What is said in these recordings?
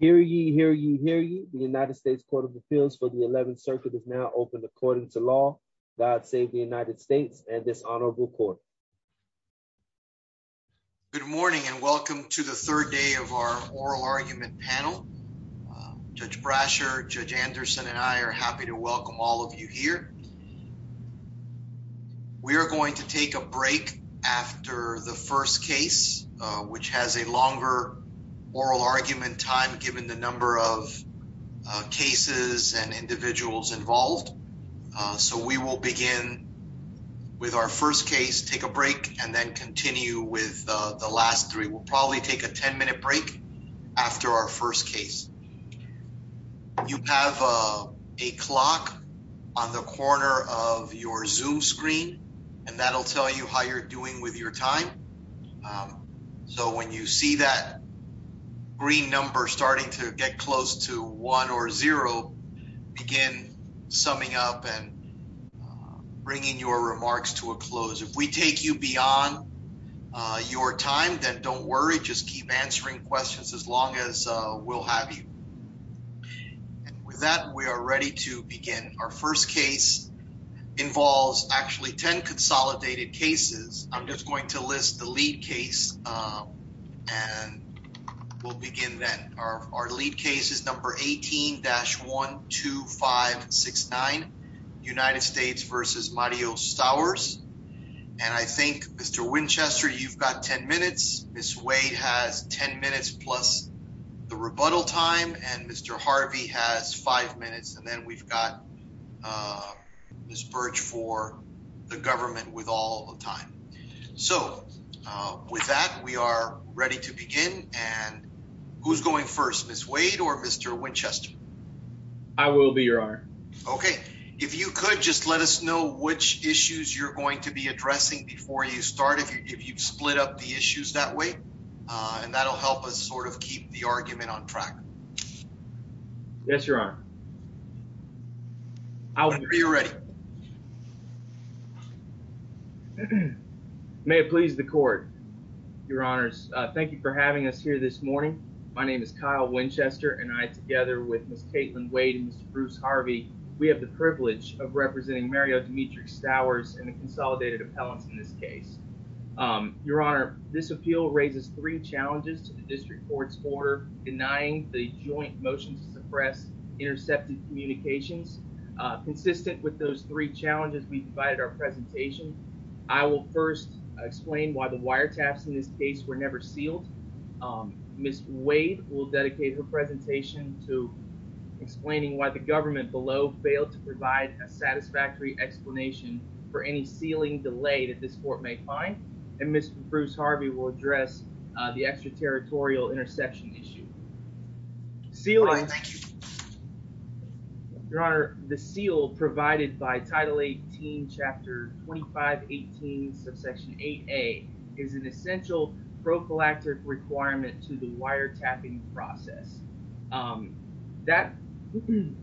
Hear ye, hear ye, hear ye. The United States Court of Appeals for the 11th Circuit is now open according to law. God save the United States and this honorable court. Good morning and welcome to the third day of our oral argument panel. Judge Brasher, Judge Anderson, and I are happy to welcome all of you here. We are going to take a break after the first case, which has a longer oral argument time given the number of cases and individuals involved. So we will begin with our first case, take a break, and then continue with the last three. We'll probably take a 10-minute break after our first case. You have a clock on the corner of your Zoom screen and that will tell you how you're doing with your time. So when you see that green number starting to get close to one or zero, begin summing up and bringing your remarks to a close. If we take you beyond your time, then don't worry, just keep answering questions as long as we'll have you. With that, we are ready to begin. Our first case involves actually 10 consolidated cases. I'm just going to list the lead case and we'll begin then. Our lead case is number 18-12569, United States v. Mario Sours. And I think, Mr. Winchester, you've got 10 minutes, Ms. Wade has 10 minutes plus the rebuttal time, and Mr. Harvey has 5 minutes, and then we've got Ms. Virch for the government with all the time. So with that, we are ready to begin. And who's going first, Ms. Wade or Mr. Winchester? I will be, Your Honor. Okay. If you could just let us know which issues you're going to be addressing before you start, if you'd split up the issues that way, and that'll help us sort of keep the argument on track. Yes, Your Honor. I'll be ready. May it please the court, Your Honors. Thank you for having us here this morning. My name is Kyle Winchester, and I, together with Ms. Caitlin Wade and Mr. Bruce Harvey, we have the privilege of representing Mario Dimitri Sours in a consolidated appellant in this case. Your Honor, this appeal raises three challenges to the district court's order denying the joint motion to suppress intercepted communications. Consistent with those three challenges we've provided our presentation, I will first explain why the wiretaps in this case were never sealed. Ms. Wade will dedicate her presentation to explaining why the government below failed to provide a satisfactory explanation for any sealing delay that this court may find, and Mr. Bruce Harvey will address the extraterritorial interception issue. Sealing, Your Honor, the seal provided by Title 18, Chapter 2518, Subsection 8A, is an essential prophylactic requirement to the wiretapping process. In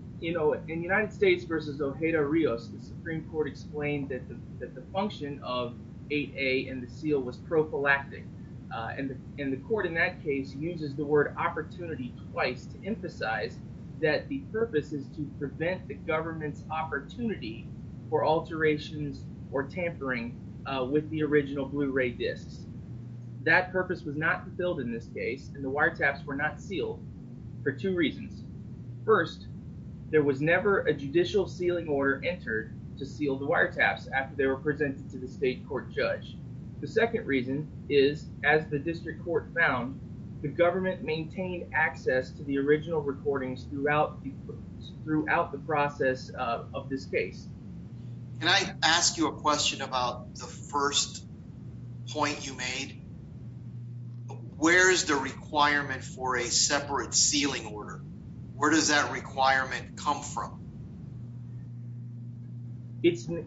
United States v. Ojeda-Rios, the Supreme Court explained that the function of 8A and the seal was prophylactic, and the court in that case uses the word opportunity twice to emphasize that the purpose is to prevent the government's opportunity for alterations or tampering with the original Blu-ray discs. That purpose was not fulfilled in this case, and the wiretaps were not sealed for two reasons. First, there was never a judicial sealing order entered to seal the wiretaps after they were presented to the state court judge. The second reason is, as the district court found, the government maintained access to the original recordings throughout the process of this case. Can I ask you a question about the first point you made? Where is the requirement for a separate sealing order? Where does that requirement come from? The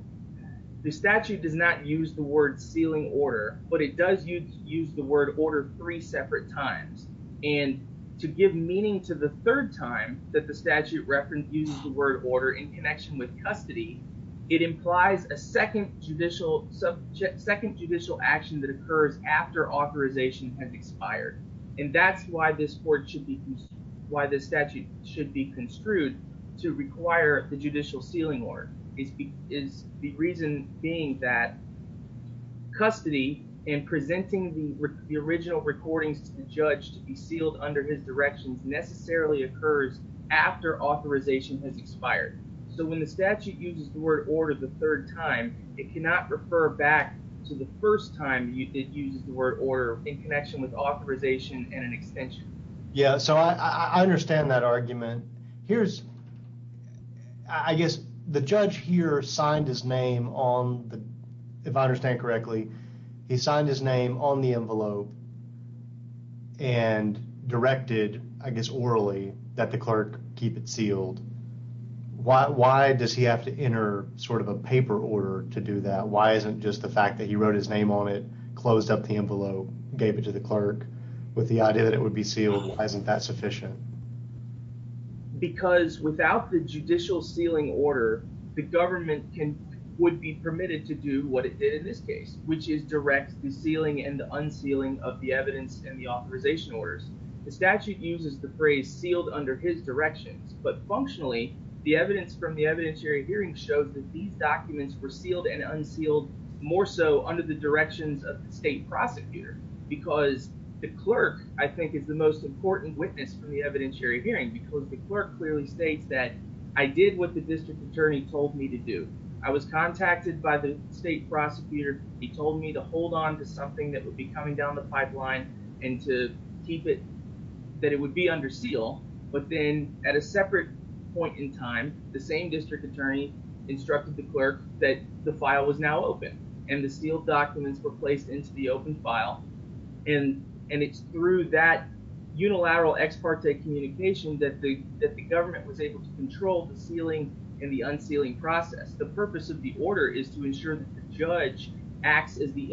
statute does not use the word sealing order, but it does use the word order three separate times, and to give meaning to the third time that the statute reference used the word order in connection with custody, it implies a second judicial action that occurs after authorization has expired, and that's why this statute should be construed to require the judicial sealing order. The reason being that custody and presenting the original recordings to the judge to be so when the statute uses the word order the third time, it cannot refer back to the first time you did use the word order in connection with authorization and an extension. Yeah, so I understand that argument. Here's, I guess, the judge here signed his name on, if I understand correctly, he signed his name on the envelope and directed, I guess orally, that the clerk keep it Why does he have to enter sort of a paper order to do that? Why isn't just the fact that he wrote his name on it, closed up the envelope, gave it to the clerk, with the idea that it would be sealed, why isn't that sufficient? Because without the judicial sealing order, the government can, would be permitted to do what it did in this case, which is direct the sealing and the unsealing of the evidence and the authorization orders. The statute uses the phrase sealed under his direction, but functionally, the evidence from the evidentiary hearing shows that these documents were sealed and unsealed more so under the directions of state prosecutors because the clerk, I think, is the most important witness from the evidentiary hearing because the clerk clearly states that I did what the district attorney told me to do. I was contacted by the state prosecutor. He told me to hold on to something that would be coming down the pipeline and to keep it, that it would be under seal, but then at a separate point in time, the same district attorney instructed the clerk that the file was now open and the sealed documents were placed into the open file and it's through that unilateral ex parte communication that the government was able to control the sealing and the unsealing process. The purpose of the order is to ensure that the judge acts as the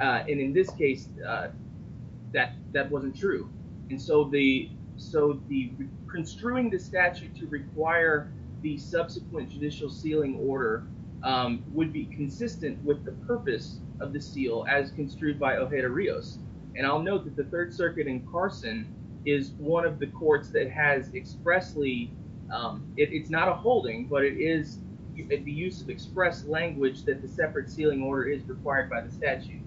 and in this case, that wasn't true and so the construing the statute to require the subsequent judicial sealing order would be consistent with the purpose of the seal as construed by Ojeda-Rios and I'll note that the Third Circuit in Carson is one of the courts that has expressly, it's not a holding, but it is the use of express language that the separate sealing order is required by the statute.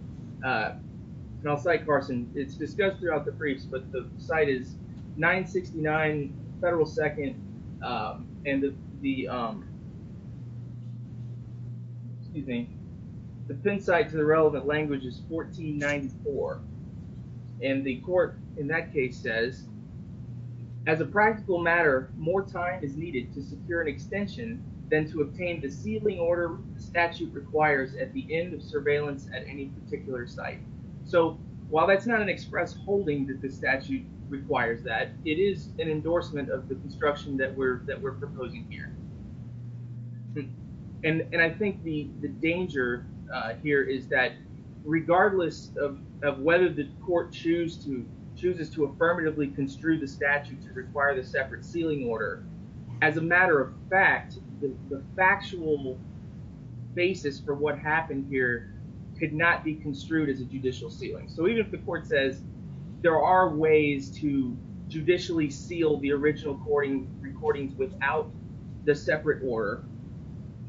And I'll say, Carson, it's discussed throughout the briefs, but the site is 969 Federal 2nd and the, excuse me, the pin site to the relevant language is 1494 and the court in that case says, as a practical matter, more time is needed to secure an extension than to obtain the sealing order statute requires at the end of surveillance at any particular site. So while that's not an express holding that the statute requires that, it is an endorsement of the construction that we're proposing here. And I think the danger here is that regardless of whether this court chooses to affirmatively construe the statute to matter of fact, the factual basis for what happened here could not be construed as a judicial sealing. So even if the court says there are ways to judicially seal the original recording without the separate order,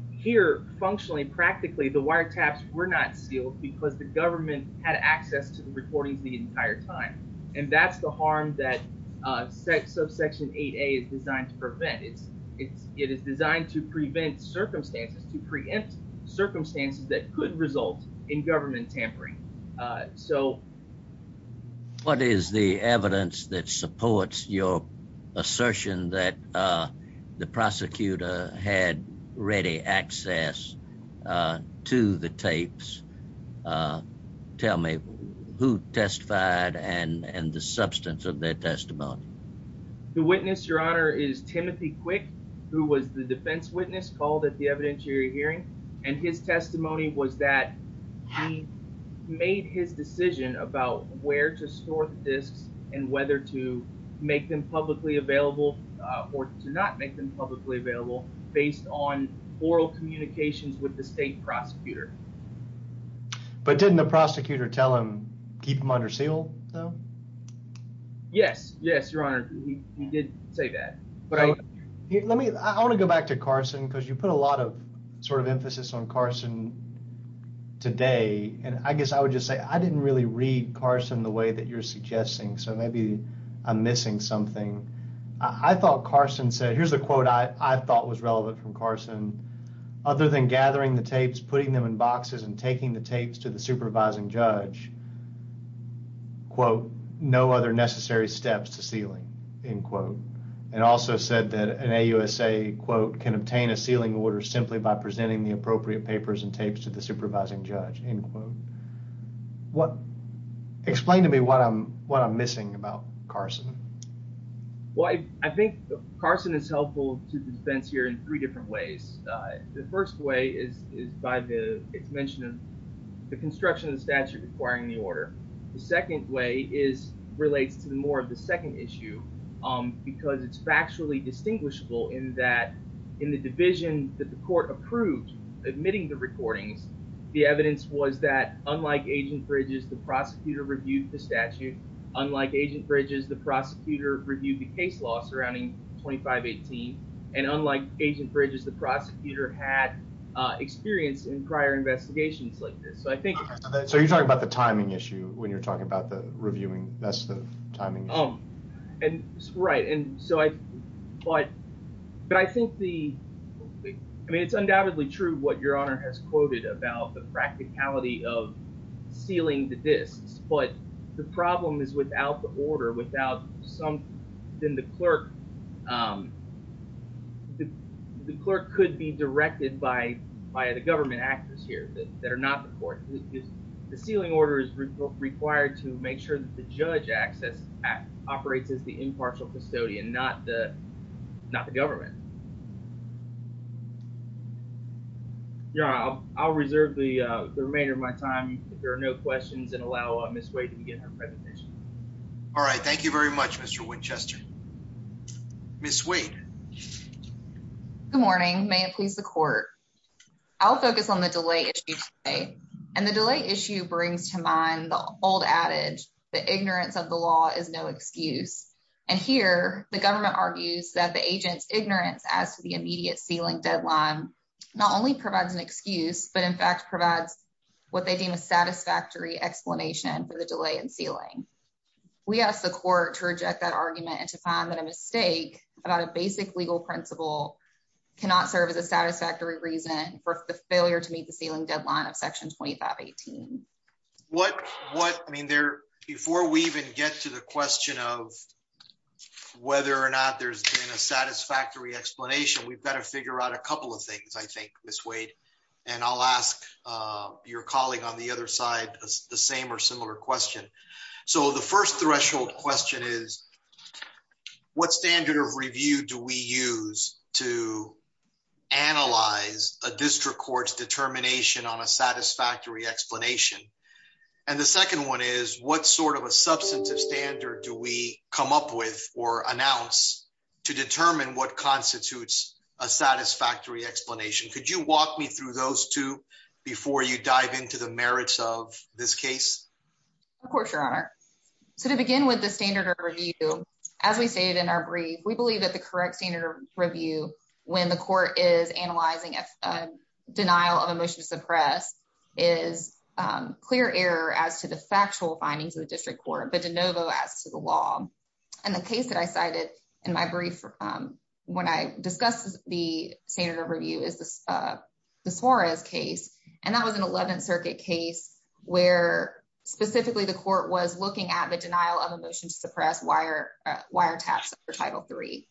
here, functionally, practically, the wiretaps were not sealed because the government had access to the recordings the entire time. And that's the harm that section 8A is designed to prevent. It is designed to prevent circumstances that could result in government tampering. So what is the evidence that supports your assertion that the prosecutor had ready access to the tapes? Tell me who testified and the substance of their testimony. The witness, your honor, is Timothy Quick, who was the defense witness called at the evidentiary hearing. And his testimony was that he made his decision about where to sort this and whether to make them publicly available or to not make them publicly available based on oral communications with the state prosecutor. But didn't the prosecutor tell him keep them under seal, though? Yes, yes, your honor. He did say that. But let me I want to go back to Carson because you put a lot of sort of emphasis on Carson today. And I guess I would just say I didn't really read Carson the way that you're suggesting. So maybe I'm missing something. I thought Carson said here's a quote I thought was relevant from Carson. Other than gathering the tapes, putting them in boxes and taking the tapes to the supervising judge, quote, no other necessary steps to sealing, end quote. And also said that an AUSA, quote, can obtain a sealing order simply by presenting the appropriate papers and tapes to the supervising judge, end quote. What explain to me what I'm what I'm missing about Carson? Well, I think Carson is helpful to the defense here in three different ways. The first way is by the mention of the construction of statute requiring the order. The second way is related to more of the second issue because it's factually distinguishable in that in the division that the court approved admitting the recording, the evidence was that unlike Agent Bridges, the prosecutor reviewed the statute. Unlike Agent Bridges, the prosecutor reviewed the case law 2518. And unlike Agent Bridges, the prosecutor had experience in prior investigations like this. So you're talking about the timing issue when you're talking about the reviewing. That's the timing. Right. And so I thought, but I think the, I mean, it's undoubtedly true what your honor has quoted about the practicality of sealing the disks. But the problem is without the order, without some, then the clerk, the clerk could be directed by the government access here that are not the court. The sealing order is required to make sure that the judge access operates as the impartial custodian, not the government. I'll reserve the remainder of my time if there are no questions and allow Ms. Wade to begin her presentation. All right. Thank you very much, Mr. Winchester. Ms. Wade. Good morning. May it please the court. I'll focus on the delay issue today. And the delay issue brings to mind the old adage, the ignorance of the law is no excuse. And here the government argues that the agent's ignorance as to the immediate sealing deadline not only provides an excuse, but in fact provides what they deem a satisfactory explanation for the delay in sealing. We ask the court to reject that argument and to find that a mistake about a basic legal principle cannot serve as a satisfactory reason for the failure to meet the ceiling deadline of section 2518. What, what, I mean, there, before we even get to the question of whether or not there's been a satisfactory explanation, we've got to figure out a couple of things, I think, Ms. Wade, and I'll ask your colleague on the other side the same or similar question. So the first threshold question is what standard of review do we use to analyze a district court's determination on a satisfactory explanation? And the second one is what sort of a substantive standard do we come up with or announce to determine what constitutes a satisfactory explanation? Could you walk me through those two before you dive into the merits of this case? Of course, Your Honor. So to begin with the standard of review, as we stated in our brief, we believe that the correct standard of review when the court is analyzing a denial of a motion to suppress is clear error as to the factual findings of the district court, but de in my brief, when I discussed the standard of review is the Torres case, and that was an 11th Circuit case where specifically the court was looking at the denial of a motion to suppress wiretaps for Title III.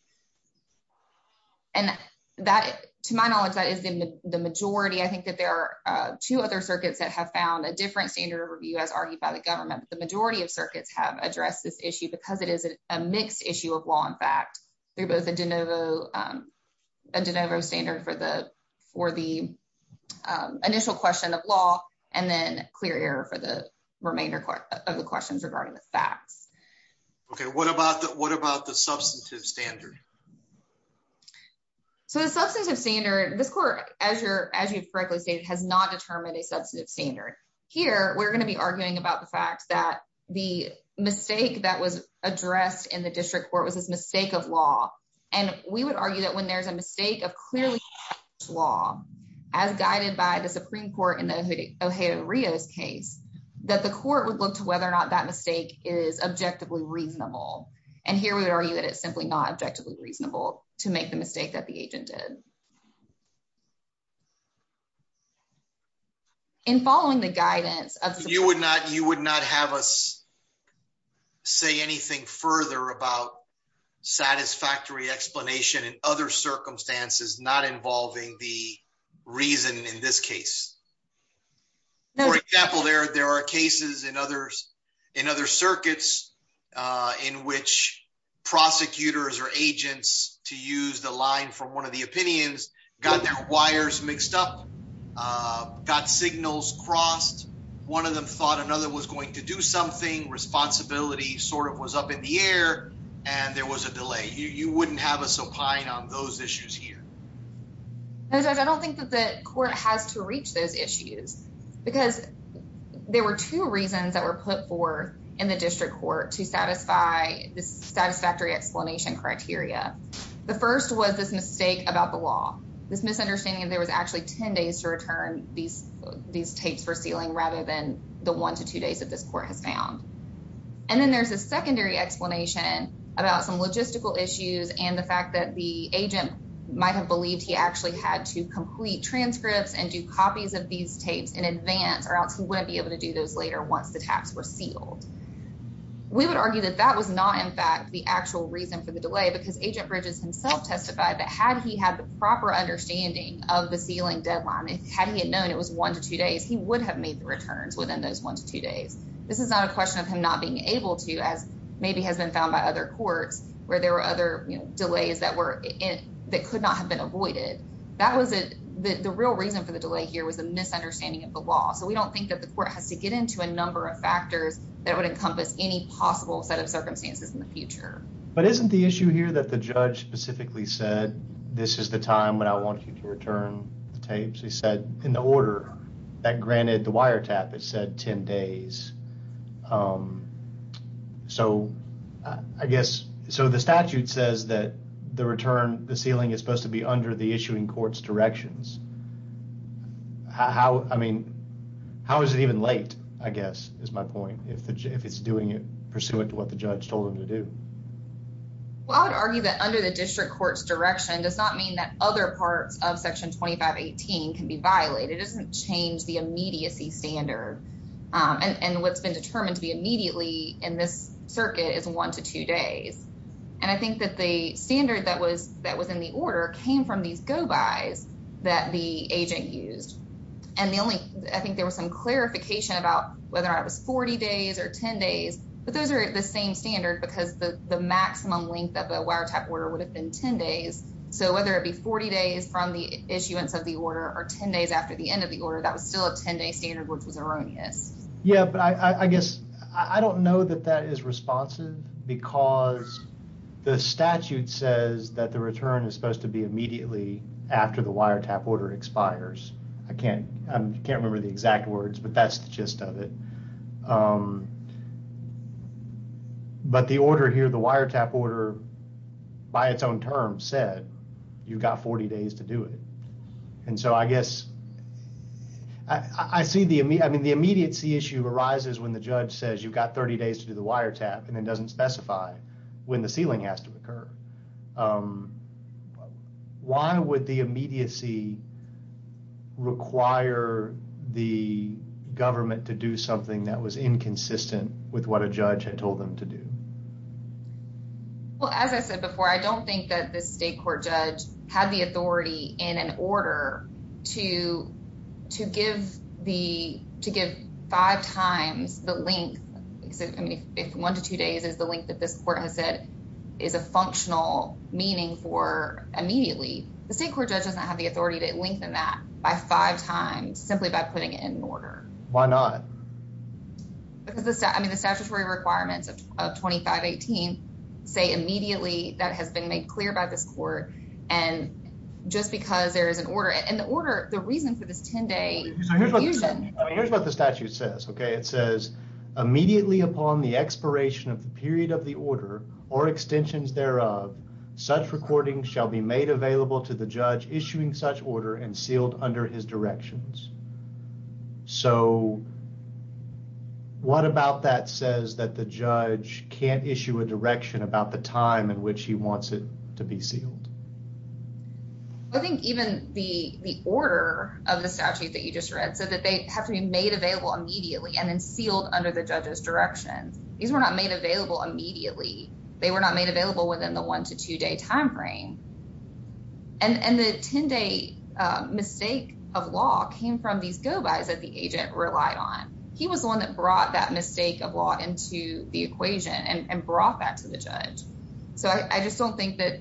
And that, to my knowledge, that is in the majority. I think that there are two other circuits that have found a different standard of review as argued by the government. The majority of circuits have addressed this issue because it is a mixed issue of law and fact through both a de novo standard for the initial question of law and then clear error for the remainder of the questions regarding the facts. Okay. What about the substantive standard? So the substantive standard, the court, as you correctly stated, has not determined a the mistake that was addressed in the district court was a mistake of law. And we would argue that when there's a mistake of clearly law, as guided by the Supreme Court in the Ohea-Rios case, that the court would look to whether or not that mistake is objectively reasonable. And here we would argue that it's simply not objectively reasonable to make the mistake that the agent did. And following the guidance of the... You would not have us say anything further about satisfactory explanation in other circumstances not involving the reason in this case. For example, there are cases in other circuits in which prosecutors or agents to use the line from one of the opinions got their wires mixed up, got signals crossed, one of them thought another was going to do something, responsibility sort of was up in the air, and there was a delay. You wouldn't have us opine on those issues here. I don't think that the court has to reach those issues because there were two reasons that were put forth in the district court to satisfy the mistake about the law. This misunderstanding that there was actually 10 days to return these tapes for sealing rather than the one to two days that this court has found. And then there's a secondary explanation about some logistical issues and the fact that the agent might have believed he actually had to complete transcripts and do copies of these tapes in advance or else he wouldn't be able to do those later once the tax were sealed. We would argue that that was not, in fact, the actual reason for the delay because Agent Bridges testified that had he had the proper understanding of the sealing deadline, having it known it was one to two days, he would have made the returns within those one to two days. This is not a question of him not being able to, as maybe has been found by other courts where there were other delays that could not have been avoided. The real reason for the delay here was a misunderstanding of the law. So we don't think that the court has to get into a number of factors that would encompass any possible set of circumstances in the future. But isn't the issue here that the judge specifically said this is the time when I want you to return the tapes? He said in the order that granted the wiretap is said 10 days. So I guess, so the statute says that the return, the sealing is supposed to be under the issuing court's directions. How, I mean, how is it even late, I guess, is my point, if it's doing it what the judge told him to do? Well, I would argue that under the district court's direction does not mean that other parts of Section 2518 can be violated. It doesn't change the immediacy standard. And what's been determined to be immediately in this circuit is one to two days. And I think that the standard that was in the order came from these go-bys that the agent used. And the only, I think there was some clarification about whether it was 40 days or 10 days, but those are the same standard because the maximum length of the wiretap order would have been 10 days. So whether it be 40 days from the issuance of the order or 10 days after the end of the order, that was still a 10-day standard, which is erroneous. Yeah, but I guess, I don't know that that is responsive because the statute says that the return is supposed to be immediately after the wiretap order expires. I can't, I can't remember the exact words, but that's the gist of it. But the order here, the wiretap order by its own term said you've got 40 days to do it. And so I guess, I see the, I mean the immediacy issue arises when the judge says you've got 30 days to do the wiretap and then doesn't specify when the sealing has to occur. Why would the judge do that? Well, as I said before, I don't think that the state court judge had the authority in an order to, to give the, to give five times the length, if one to two days is the length that this court has said is a functional meaning for immediately, the state court judge doesn't have the authority to lengthen that by five times simply by putting it in order. Why not? Because the statutory requirements of 2518 say immediately that has been made clear by the court and just because there is an order, and the order, the reasons that it's 10 days. Here's what the statute says, okay, it says immediately upon the expiration of the period of the order or extensions thereof, such recordings shall be made available to the court. So what about that says that the judge can't issue a direction about the time in which he wants it to be sealed? I think even the, the order of the statute that you just read, so that they have to be made available immediately and then sealed under the judge's direction. These were not made available immediately. They were not made available within the one to two day timeframe. And the 10 day mistake of law came from these go-bys that the agent relied on. He was the one that brought that mistake of law into the equation and brought that to the judge. So I just don't think that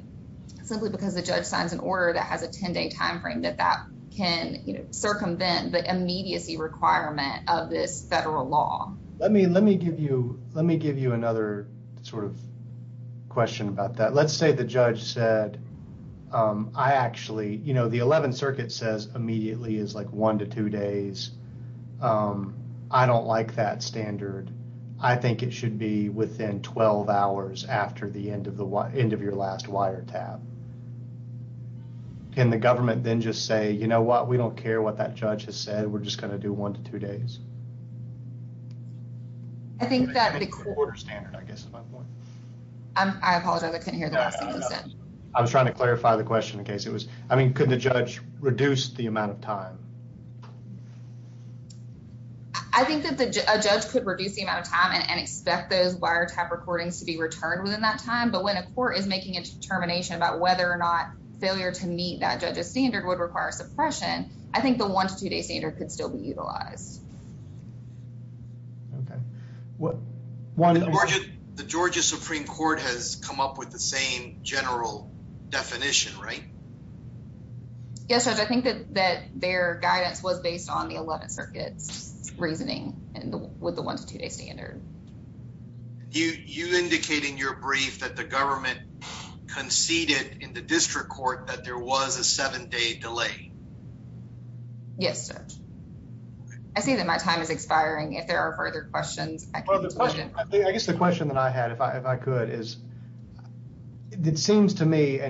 simply because the judge signs an order that has a 10 day timeframe that that can circumvent the immediacy requirement of this federal law. Let me, let me give you, let me give you another sort of question about that. Let's say the judge said, I actually, you know, the 11th circuit says immediately is like one to two days. I don't like that standard. I think it should be within 12 hours after the end of the, end of your last wire tab. And the government then just say, you know what, we don't care what that judge has said. We're just going to do one to two days. I think that's the core standard, I guess. I apologize. I couldn't hear that. I was trying to clarify the question in case it was, I mean, could the judge reduce the amount of time? I think that the judge could reduce the amount of time and expect those wire tab recordings to be returned within that time. But when a court is making a determination about whether or not failure to meet that judge's standard would require suppression, I think one to two day standard could still be utilized. The Georgia Supreme Court has come up with the same general definition, right? Yes, Judge, I think that their guidance was based on the 11th circuit reasoning and with the one to two day standard. You indicate in your brief that the government conceded in the district court that there was a seven day delay. Yes, Judge. I think that my time is expiring. I guess the question that I had, if I could, is it seems to me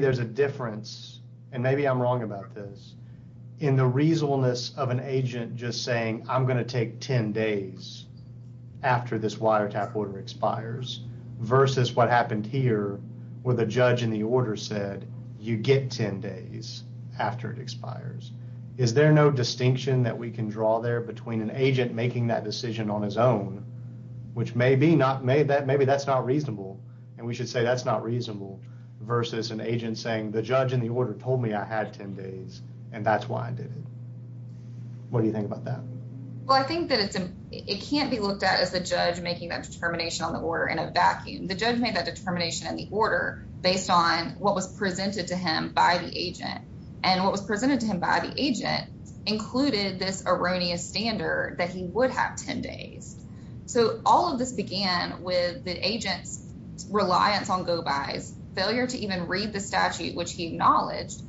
there's a difference, and maybe I'm wrong about this, in the reasonableness of an agent just saying, I'm going to take 10 days after this wire tab order expires versus what happened here where the judge in the order said, you get 10 days after it expires. Is there no distinction that we can draw there between an agent making that decision on his own, which maybe that's not reasonable, and we should say that's not reasonable, versus an agent saying, the judge in the order told me I had 10 days, and that's why I did it. What do you think about that? Well, I think that it can't be looked at as a judge making that determination on the order in a vacuum. The judge made that determination in the order based on what was presented to him by the agent, and what was presented to him by the agent included this erroneous standard that he would have 10 days. So all of this began with the agent's reliance on go-by's, failure to even read the statute, which he acknowledged.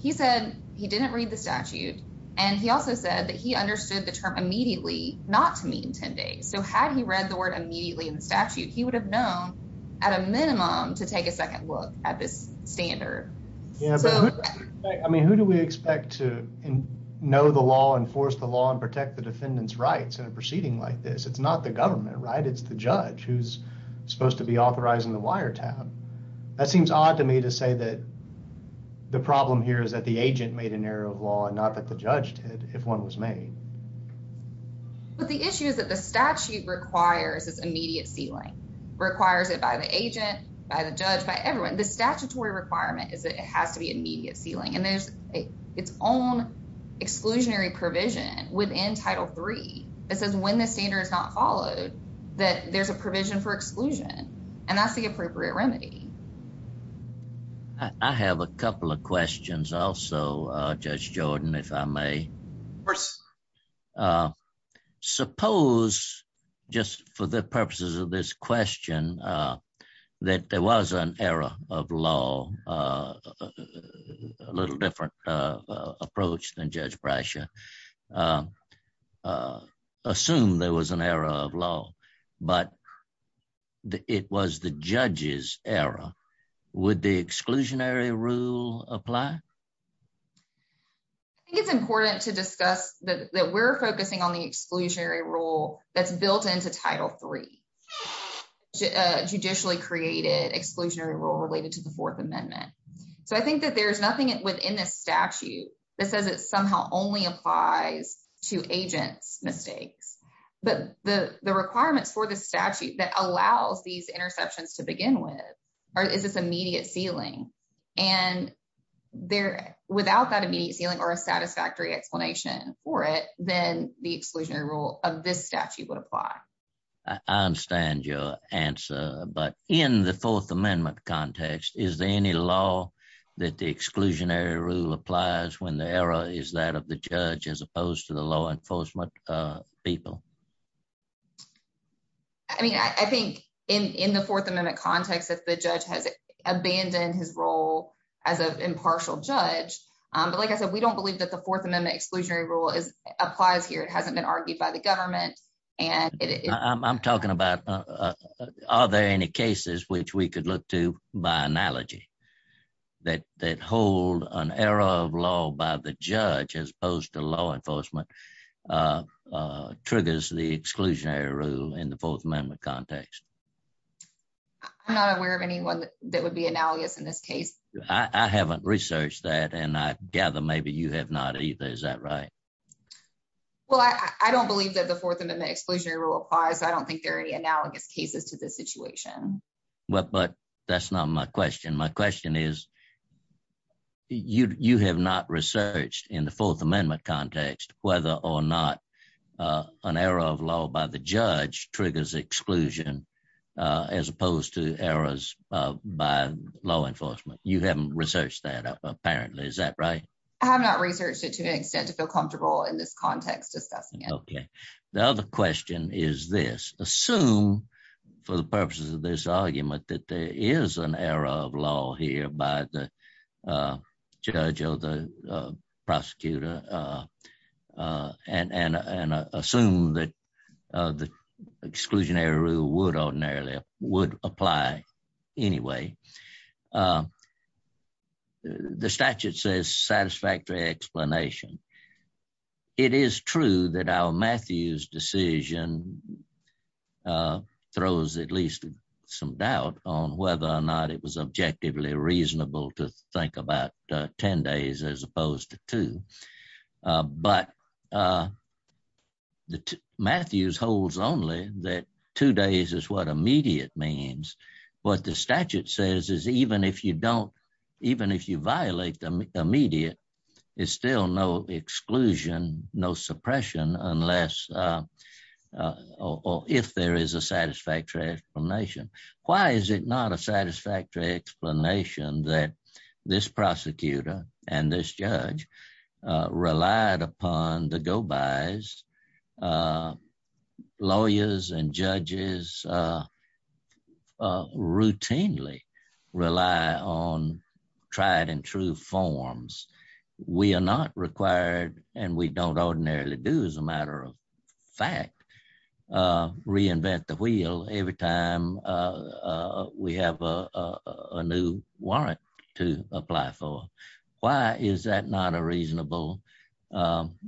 He said he didn't read the statute, and he also said that he understood the term immediately not to mean 10 days. So had he read the word immediately in the statute, he could have known at a minimum to take a second look at this standard. Yeah, but I mean, who do we expect to know the law, enforce the law, and protect the defendant's rights in a proceeding like this? It's not the government, right? It's the judge who's supposed to be authorizing the wiretapping. That seems odd to me to say that the problem here is that the agent made an error of law and not that the judge did, if one was made. But the issue is that the statute requires this immediate sealing, requires it by the agent, by the judge, by everyone. The statutory requirement is that it has to be immediate sealing, and there's its own exclusionary provision within Title III that says when the standard is not followed, that there's a provision for exclusion, and that's the appropriate remedy. I have a couple of questions also, Judge Jordan, if I may. Of course. Suppose, just for the purposes of this question, that there was an error of law, a little different approach than Judge Brescia, assume there was an error of law, but it was the judge's error. Would the exclusionary rule apply? I think it's important to discuss that we're focusing on the exclusionary rule that's built into Title III, a judicially created exclusionary rule related to the Fourth Amendment. So I think that there's nothing within this statute that says it somehow only applies to agent mistakes. But the requirements for the statute that allows these interceptions to begin with is this immediate sealing, and without that immediate sealing or a satisfactory explanation for it, then the exclusionary rule of this statute would apply. I understand your answer, but in the Fourth Amendment context, is there any law that the exclusionary rule applies when the error is that of the judge as opposed to the law enforcement people? I mean, I think in the Fourth Amendment context that the judge has abandoned his role as an impartial judge, but like I said, we don't believe that the Fourth Amendment exclusionary rule applies here. It hasn't been argued by the government. I'm talking about are there any cases which we could look to by analogy that hold an error of law by the judge as opposed to law enforcement triggers the exclusionary rule in the Fourth Amendment context? I'm not aware of anyone that would be analogous in this case. I haven't researched that, and I gather maybe you have not either. Is that right? Well, I don't believe that the Fourth Amendment exclusionary rule applies, so I don't think there are any analogous cases to this situation. But that's not my question. My question is, you have not researched in the Fourth Amendment context whether or not an error of law by the judge triggers exclusion as opposed to errors by law enforcement. You haven't researched that, apparently. Is that right? I have not researched it to the extent that they're comfortable in this context. Okay. The other question is this. Assume, for the purposes of this argument, that there is an error of law here by the judge or the prosecutor, and assume that the exclusionary rule would ordinarily would apply anyway. The statute says satisfactory explanation. It is true that our Matthews decision throws at least some doubt on whether or not it was objectively reasonable to think about 10 days as opposed to two. But Matthews holds only that two days is what immediate means. What the statute says is even if you violate the immediate, it's still no exclusion, no suppression unless or if there is a satisfactory explanation. Why is it not a satisfactory explanation that this prosecutor and this judge relied upon the go-bys, and lawyers and judges routinely rely on tried and true forms? We are not required, and we don't ordinarily do as a matter of fact, reinvent the wheel every time we have a new warrant to apply for. Why is that not a reasonable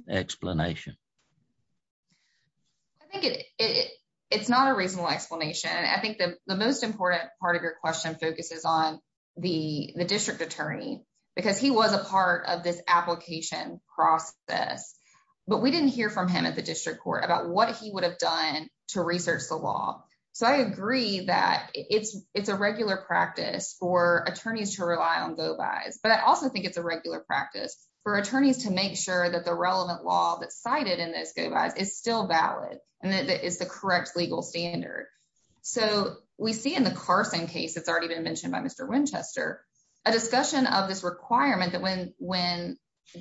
explanation? I think it's not a reasonable explanation. I think the most important part of your question focuses on the district attorney because he was a part of this application process, but we didn't hear from him at the district court about what he would have done to research the law. So I agree that it's a regular practice for attorneys to rely on go-bys, but I also think it's a regular practice for attorneys to make sure that the relevant law that's cited in those go-bys is still valid and that it's the correct legal standard. So we see in the Carson case that's already been mentioned by Mr. Winchester, a discussion of this requirement that when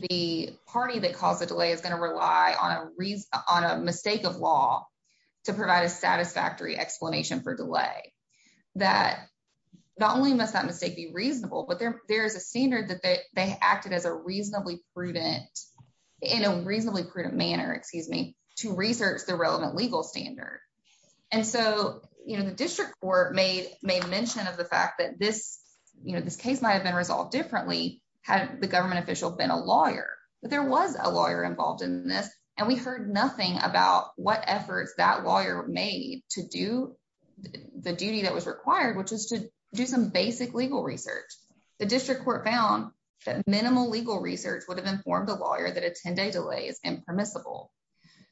the party that caused the delay is going to rely on a mistake of law to provide a satisfactory explanation for delay, that not only must that mistake be reasonable, but there is a standard that they acted as a reasonably prudent, in a reasonably prudent manner, excuse me, to research the relevant legal standard. And so the district court may mention of the fact that this case might have been resolved differently had the government official been a lawyer, but there was a lawyer involved in this and we heard nothing about what efforts that lawyer made to do the duty that was required, which is to do some basic legal research. The district court found that minimal legal research would have informed a lawyer that a 10-day delay is impermissible.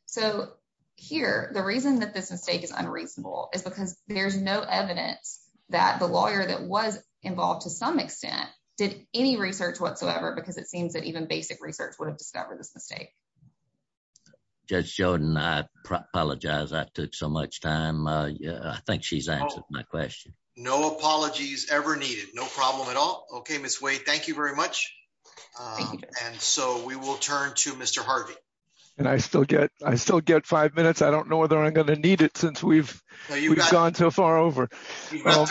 So here, the reason that this mistake is unreasonable is because there's no evidence that the lawyer that was involved to some extent did any research whatsoever because it seems that even basic research would have failed. Judge Jordan, I apologize. I took so much time. I think she's answered my question. No apologies ever needed. No problem at all. Okay, Ms. Wade, thank you very much. And so we will turn to Mr. Harvey. And I still get five minutes. I don't know whether I'm going to need it since we've gone so far over. You've got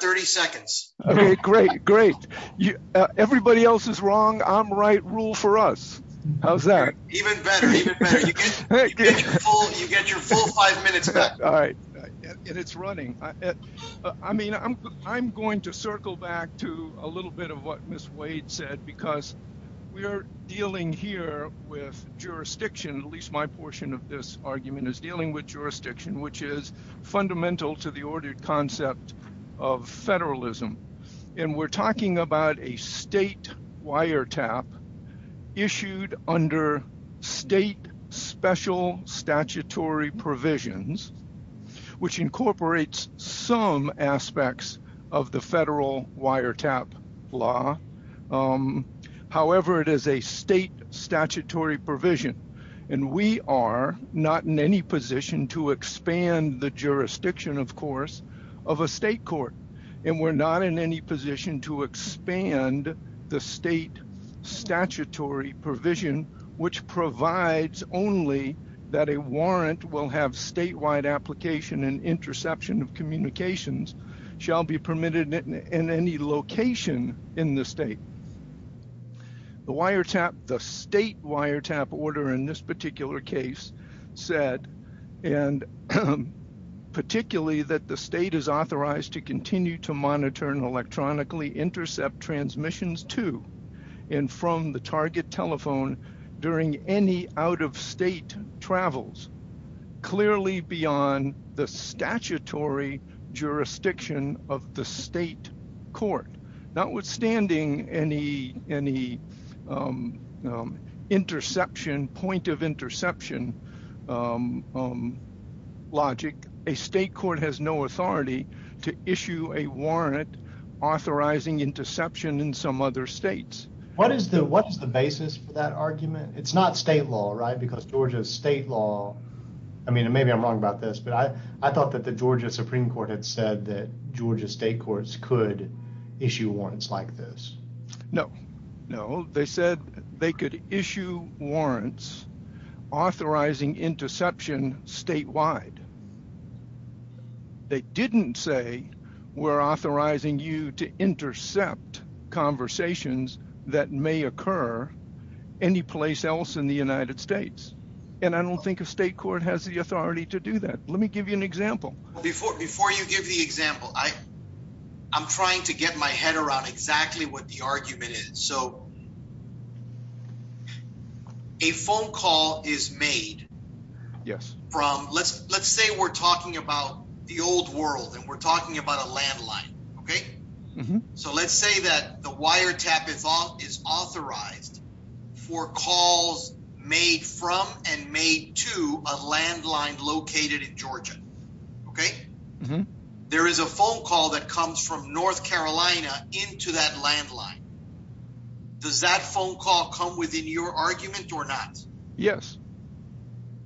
30 seconds. Great, great. Everybody else is wrong. I'm right. Rule for us. How's that? I'm going to circle back to a little bit of what Ms. Wade said because we're dealing here with jurisdiction, at least my portion of this argument is dealing with jurisdiction, which is and we're talking about a state wiretap issued under state special statutory provisions, which incorporates some aspects of the federal wiretap law. However, it is a state statutory provision. And we are not in any position to expand the jurisdiction, of course, of a state court. And we're not in any position to expand the state statutory provision, which provides only that a warrant will have statewide application and interception of communications shall be permitted in any location in the state. The wiretap, the state wiretap order in this monitor and electronically intercept transmissions to and from the target telephone during any out of state travels clearly beyond the statutory jurisdiction of the state court. Notwithstanding any interception, point of interception logic, a state court has no authority to issue a warrant authorizing interception in some other states. What is the basis for that argument? It's not state law, right? Because Georgia's state law, I mean, maybe I'm wrong about this, but I thought that the Georgia Supreme Court had said that Georgia state courts could issue warrants like this. No, no. They said they could issue warrants authorizing interception statewide. They didn't say we're authorizing you to intercept conversations that may occur any place else in the United States. And I don't think a state court has the authority to do that. Let me give you an example. Before you give the example, I'm trying to get my head around exactly what the argument is. So a phone call is made from, let's say we're talking about the old world and we're talking about a landline, okay? So let's say that the wiretap is authorized for calls made from and made to a landline located in Georgia, okay? There is a phone call that comes from North Carolina into that landline. Does that phone call come within your argument or not? Yes.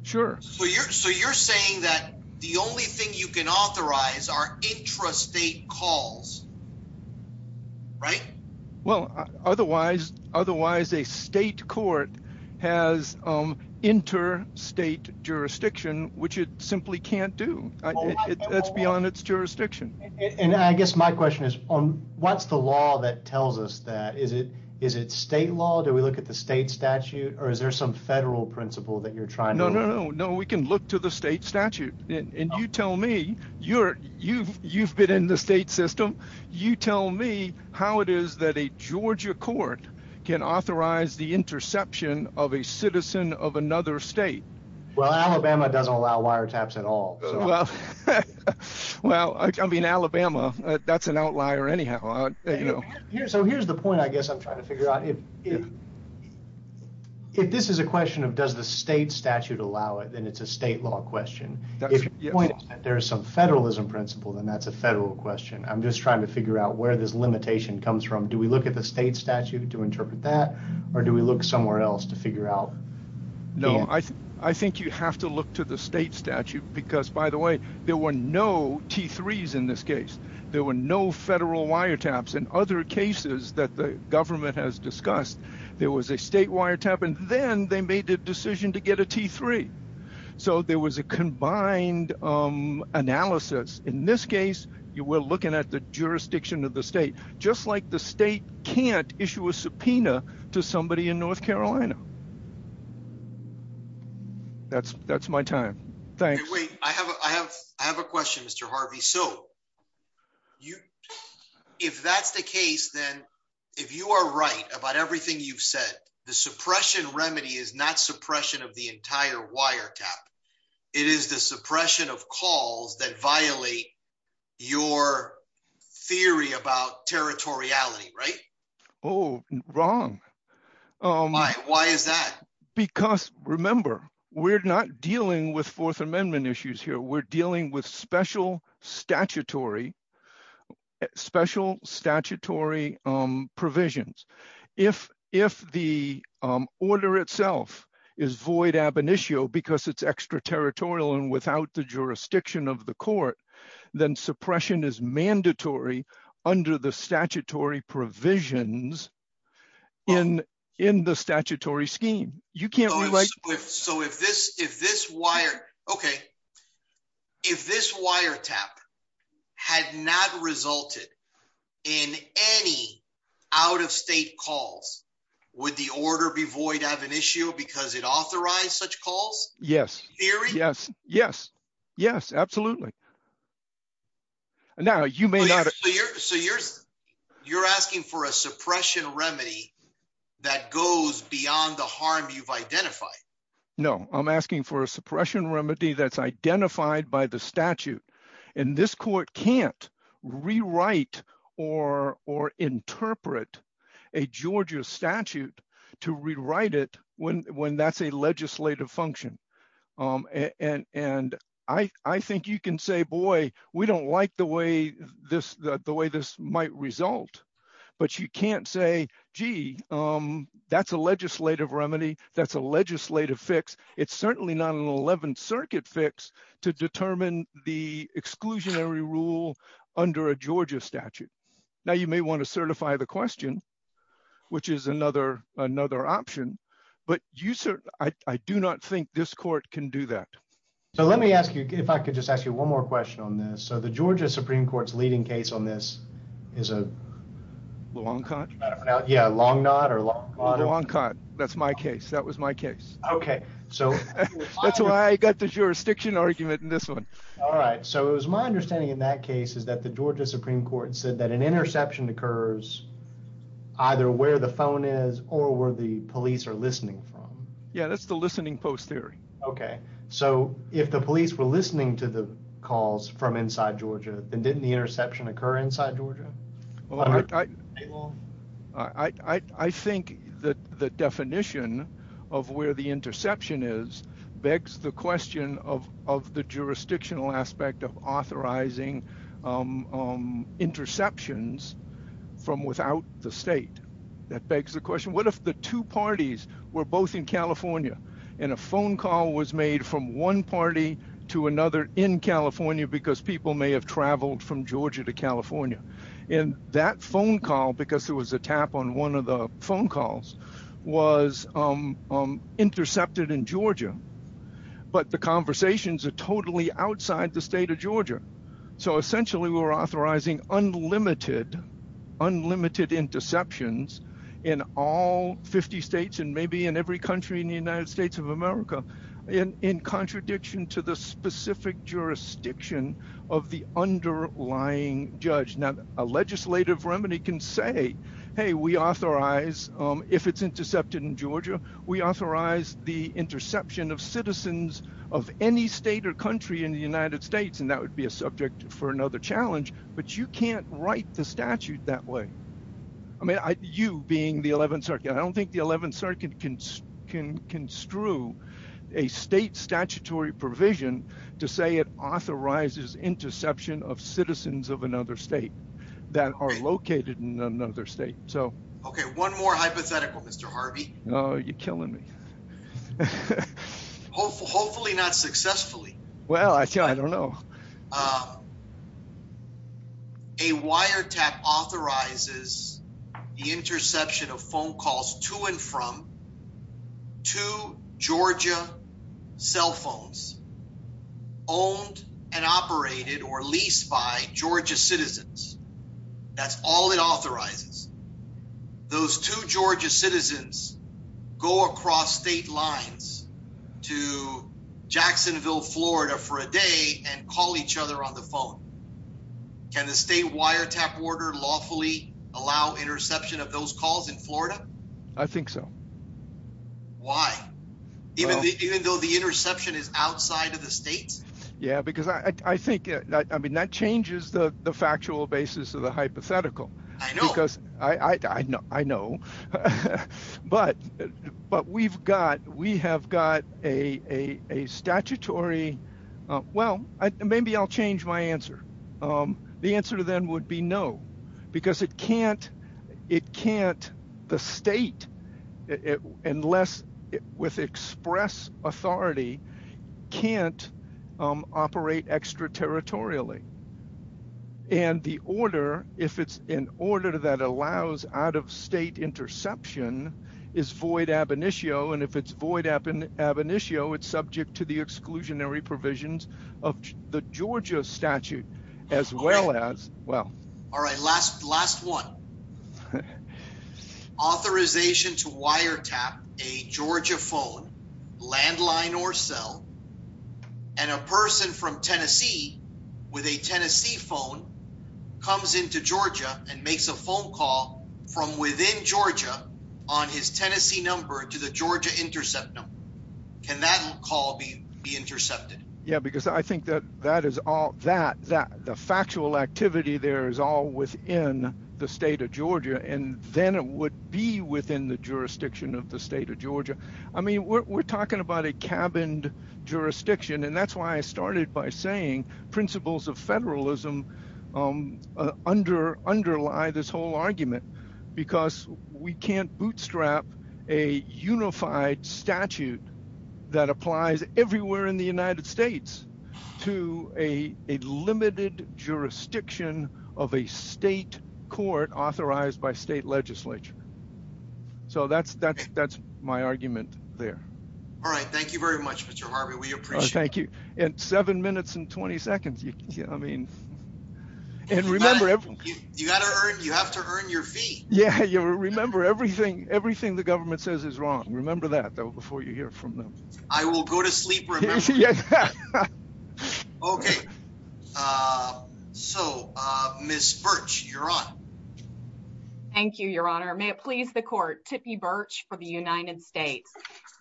Sure. So you're saying that the only thing you can authorize are intrastate calls, right? Well, otherwise a state court has interstate jurisdiction, which it simply can't do. That's beyond its jurisdiction. And I guess my question is, what's the law that tells us that? Is it state law? Do we look at the state statute or is there some federal principle that you're trying to- No, no, no. No, we can look to the state statute. And you tell me, you've been in the state system. You tell me how it is that a Georgia court can authorize the interception of a citizen of another state. Well, Alabama doesn't allow wiretaps at all. Well, I mean, Alabama, that's an outlier anyhow. So here's the point I guess I'm trying to figure out. If this is a question of does the state statute allow it, then it's a state law question. If the point is that there's some federalism principle, then that's a federal question. I'm just trying to figure out where this limitation comes from. Do we look at the state statute to interpret that or do we look somewhere else to figure out? No, I think you have to look to the state statute because by the way, there were no T3s in this case. There were no federal wiretaps. In other cases that the government has discussed, there was a state wiretap and then they made the decision to get a T3. So there was a combined analysis. In this case, you were looking at the jurisdiction of the state, just like the state can't issue a subpoena to somebody in North Carolina. That's my time. Thanks. Wait, I have a question, Mr. Harvey. So if that's the case, then if you are right about everything you've said, the suppression remedy is not suppression of the entire wiretap. It is the suppression of calls that violate your theory about territoriality, right? Oh, wrong. Why is that? Because remember, we're not dealing with Fourth Amendment issues here. We're dealing with special statutory provisions. If the order itself is void ab initio because it's extraterritorial and without the jurisdiction of the court, then suppression is mandatory under the statutory provisions in the statutory scheme. So if this wiretap has not resulted in any out-of-state calls, would the order be void ab initio because it authorized such calls? Yes, absolutely. So you're asking for a suppression remedy that goes beyond the harm you've identified? No, I'm asking for a suppression remedy that's identified by the statute. And this court can't rewrite or interpret a Georgia statute to rewrite it when that's a legislative function. And I think you can say, boy, we don't like the way this might result. But you can't say, gee, that's a legislative remedy. That's a legislative fix. It's certainly not an 11th Circuit fix to determine the exclusionary rule under a Georgia statute. Now, you may want to do that. So let me ask you, if I could just ask you one more question on this. So the Georgia Supreme Court's leading case on this is a Longot? Yeah, Longot or Longot. Longot. That's my case. That was my case. Okay. That's why I got the jurisdiction argument in this one. All right. So it was my understanding in that case is that the Georgia Supreme Court said that an interception occurs either where the phone is or where the police are listening from. Yeah, that's the posterior. Okay. So if the police were listening to the calls from inside Georgia, then didn't the interception occur inside Georgia? Well, I think the definition of where the interception is begs the question of the jurisdictional aspect of authorizing interceptions from without the state. That begs the question, what if the two parties were both in California and a phone call was made from one party to another in California because people may have traveled from Georgia to California? And that phone call, because there was a tap on one of the phone calls, was intercepted in Georgia. But the conversations are totally outside the state of Georgia. So essentially, we were authorizing unlimited, unlimited interceptions in all 50 states and maybe in every country in the United States of America in contradiction to the specific jurisdiction of the underlying judge. Now, a legislative remedy can say, hey, we authorize, if it's intercepted in Georgia, we authorize the interception of citizens of any state or country in the United States. And that would be a subject for another challenge. But you can't write the statute. You can't construe a state statutory provision to say it authorizes interception of citizens of another state that are located in another state. Okay, one more hypothetical, Mr. Harvey. Oh, you're killing me. Hopefully not successfully. Well, I don't know. A wiretap authorizes the interception of phone calls to and from two Georgia cell phones owned and operated or leased by Georgia citizens. That's all it authorizes. Those two Georgia on the phone. And the state wiretap order lawfully allow interception of those calls in Florida. I think so. Why? Even though the interception is outside of the state? Yeah, because I think that I mean, that changes the factual basis of the hypothetical. Because I know. But we've got we have got a statutory. Well, maybe I'll change my answer. The answer then would be no. Because it can't. It can't. The state unless with express authority can't operate extraterritorially. And the order if it's an order that allows out of state interception is void ab initio. And if it's void ab initio, it's subject to the exclusionary provisions of the Georgia statute, as well as well. All right, last last one. Authorization to wiretap a Georgia phone landline or cell and a person from Tennessee with a Tennessee phone comes into Georgia and makes a phone call from within Georgia on his Tennessee number to the Georgia intercept. Can that call be intercepted? Yeah, because I think that that is all that that the factual activity there is all within the state of Georgia. And then it would be within the jurisdiction of the state of Georgia. I mean, we're talking about a cabined jurisdiction. And that's why I started by saying principles of federalism under underlie this whole argument, because we can't bootstrap a unified statute that applies everywhere in the United States to a limited jurisdiction of a state court authorized by state legislature. So that's, that's, that's my argument there. All right. Thank you very much, Mr. Harvey. We appreciate it. Thank you. And seven minutes and 20 seconds. Yeah, I mean, and remember, you gotta earn you have to earn your fee. Yeah, you remember everything. Everything the government says is wrong. Remember that before you hear from them. I will go to sleep. Okay. So, Ms. Birch, you're on. Thank you, Your Honor. May it please the court, Tippi Birch for the United States.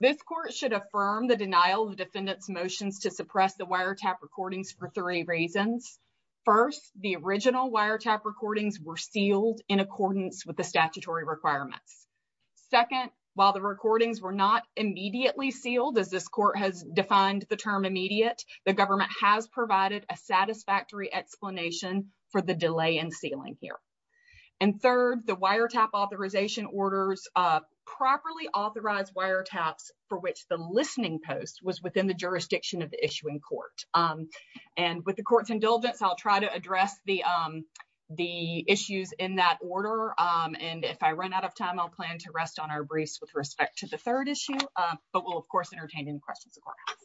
This court should affirm the denial of defendant's motions to suppress the wiretap recordings for three reasons. First, the original wiretap recordings were sealed in accordance with the statutory requirements. Second, while the recordings were not immediately sealed, as this court has defined the term immediate, the government has provided a satisfactory explanation for the delay in sealing here. And third, the wiretap authorization orders properly authorized wiretaps for which the listening post was within the jurisdiction of the issuing court. And with the court's indulgence, I'll try to address the issues in that order. And if I run out of time, I'll plan to rest on our briefs with respect to the questions the court has.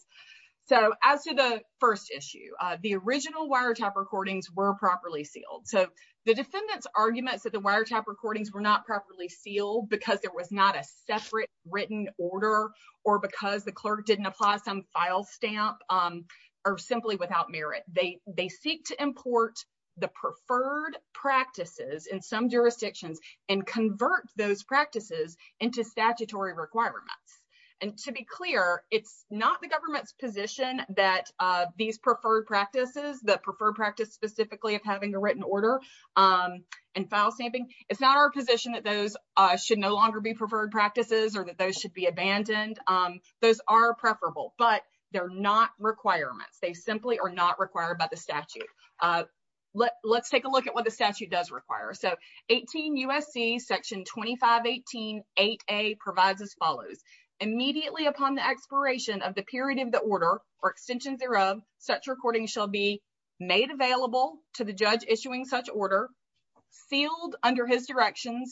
So, as to the first issue, the original wiretap recordings were properly sealed. So, the defendant's arguments that the wiretap recordings were not properly sealed because there was not a separate written order or because the clerk didn't apply some file stamp are simply without merit. They seek to import the preferred practices in some jurisdictions and convert those practices into statutory requirements. And to be clear, it's not the government's position that these preferred practices, the preferred practice specifically of having a written order and file stamping, it's not our position that those should no longer be preferred practices or that those should be abandoned. Those are preferable, but they're not requirements. They simply are not required by the statute. Let's take a look at what the statute does require. So, 18 U.S.C. Section 2518.8a provides as follows. Immediately upon the expiration of the period of the order or extension thereof, such recordings shall be made available to the judge issuing such order, sealed under his direction,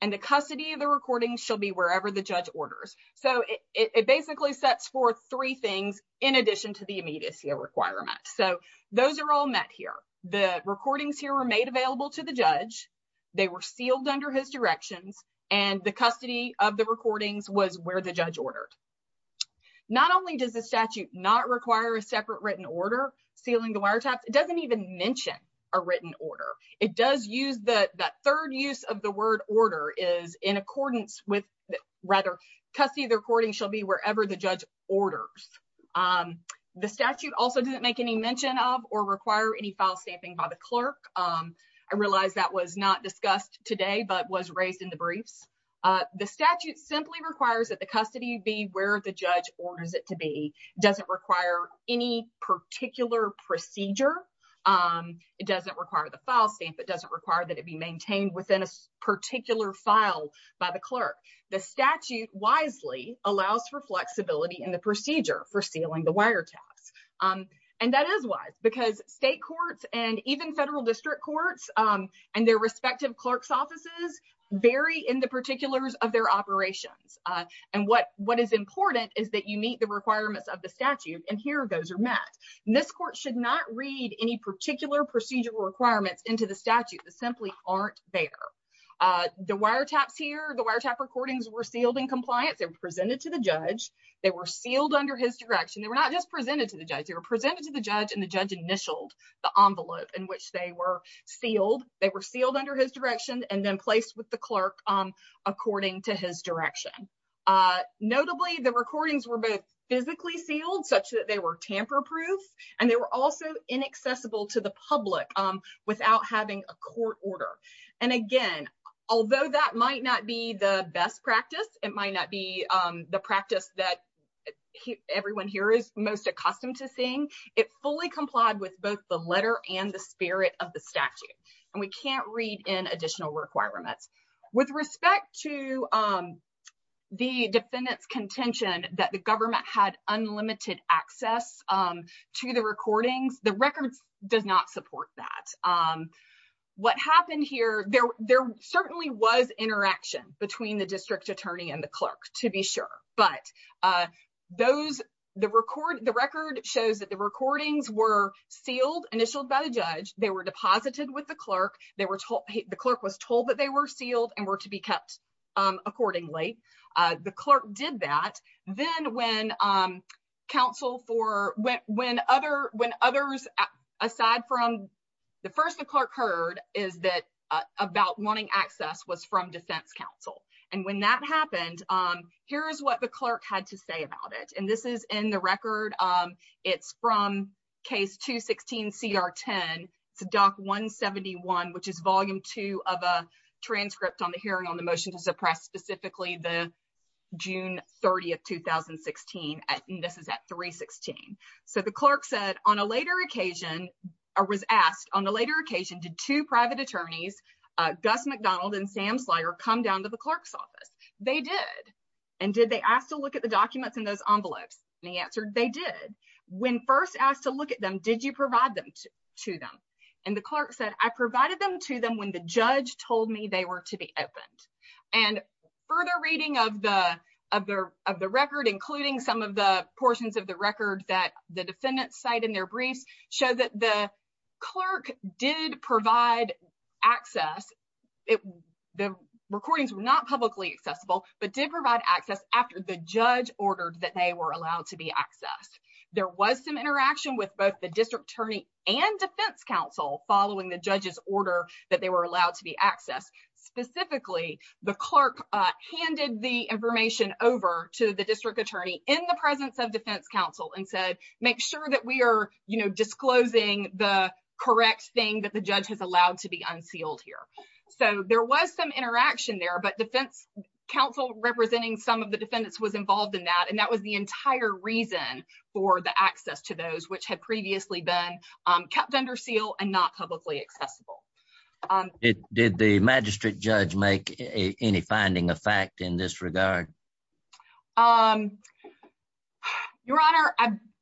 and the custody of the recordings shall be wherever the judge orders. So, it basically sets forth three things in addition to the immediacy of requirement. So, those are all met here. The recordings here were made available to the judge. They were sealed under his direction, and the custody of the recordings was where the judge ordered. Not only does the statute not require a separate written order sealing the wiretaps, it doesn't even mention a written order. It does use the third use of the word order is in accordance with rather custody of the recording shall be wherever the judge orders. The statute also doesn't make any mention of or require any file stamping by the clerk. I realize that was not discussed today but was raised in the brief. The statute simply requires that the custody be where the judge orders it to be. It doesn't require any particular procedure. It doesn't require the file stamp. It doesn't require that it be maintained within a particular file by the clerk. The statute wisely allows for flexibility in the procedure for sealing the wiretaps. That is wise because state courts and even federal district courts and their respective clerk's offices vary in the particulars of their operation. What is important is that you meet the requirements of the statute, and here those are met. This court should not read any particular procedural requirements into the statute. They simply aren't there. The wiretaps here, the wiretap recordings were sealed and compliant. They were presented to the judge. They were presented to the judge, and the judge initialed the envelope in which they were sealed. They were sealed under his direction and then placed with the clerk according to his direction. Notably, the recordings were both physically sealed such that they were tamper proof, and they were also inaccessible to the public without having a court order. Again, although that might not be the best practice, it might not be the practice that everyone here is accustomed to seeing. It fully complied with both the letter and the spirit of the statute, and we can't read in additional requirements. With respect to the defendant's contention that the government had unlimited access to the recordings, the record does not support that. What happened here, there certainly was interaction between the district attorney and clerk to be sure, but the record shows that the recordings were sealed, initialed by the judge. They were deposited with the clerk. The clerk was told that they were sealed and were to be kept accordingly. The clerk did that. Then when others, aside from the first the clerk heard, is that about wanting access was from defense counsel. When that happened, here is what the clerk had to say about it. This is in the record. It's from case 216CR10 to doc 171, which is volume two of a transcript on the hearing on the motions of press, specifically the June 30th, 2016. This is a transcript. The clerk said, I provided them to them when the judge told me they were to be opened. Further reading of the record, including some of the portions of the record that the clerk provided, the recordings were not publicly accessible, but did provide access after the judge ordered that they were allowed to be accessed. There was some interaction with both the district attorney and defense counsel following the judge's order that they were allowed to be accessed. Specifically, the clerk handed the information over to the district attorney in the presence of defense counsel and said, make sure that we are disclosing the correct thing that the judge has allowed to be unsealed here. There was some interaction there, but defense counsel representing some of the defendants was involved in that, and that was the entire reason for the access to those which had previously been kept under seal and not publicly accessible. Did the magistrate judge make any finding of fact in this regard? Your Honor,